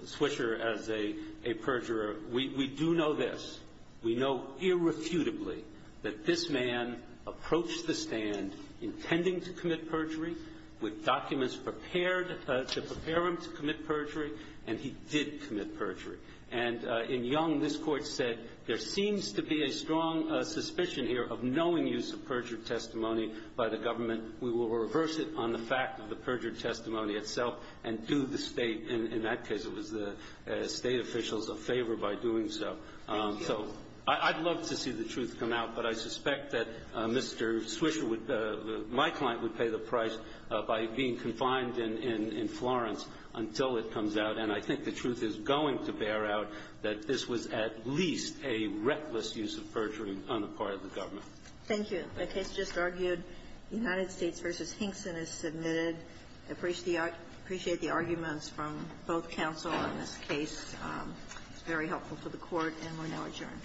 Swisher as a perjurer. We do know this. We know irrefutably that this man approached the stand intending to commit perjury with documents prepared to prepare him to commit perjury, and he did commit perjury. And in Young, this court said there seems to be a strong suspicion here of knowing use of perjured testimony by the government. We will reverse it on the fact of the perjured testimony itself and do the state, in that case it was the state officials, a favor by doing so. So I'd love to see the truth come out, but I suspect that Mr. Swisher, my client, would pay the price by being confined in Florence until it comes out, and I think the truth is going to bear out that this was at least a reckless use of perjury on the part of the government. Thank you. The case just argued. United States v. Hinkson is submitted. I appreciate the arguments from both counsel on this case. It's very helpful for the court, and we're now adjourned.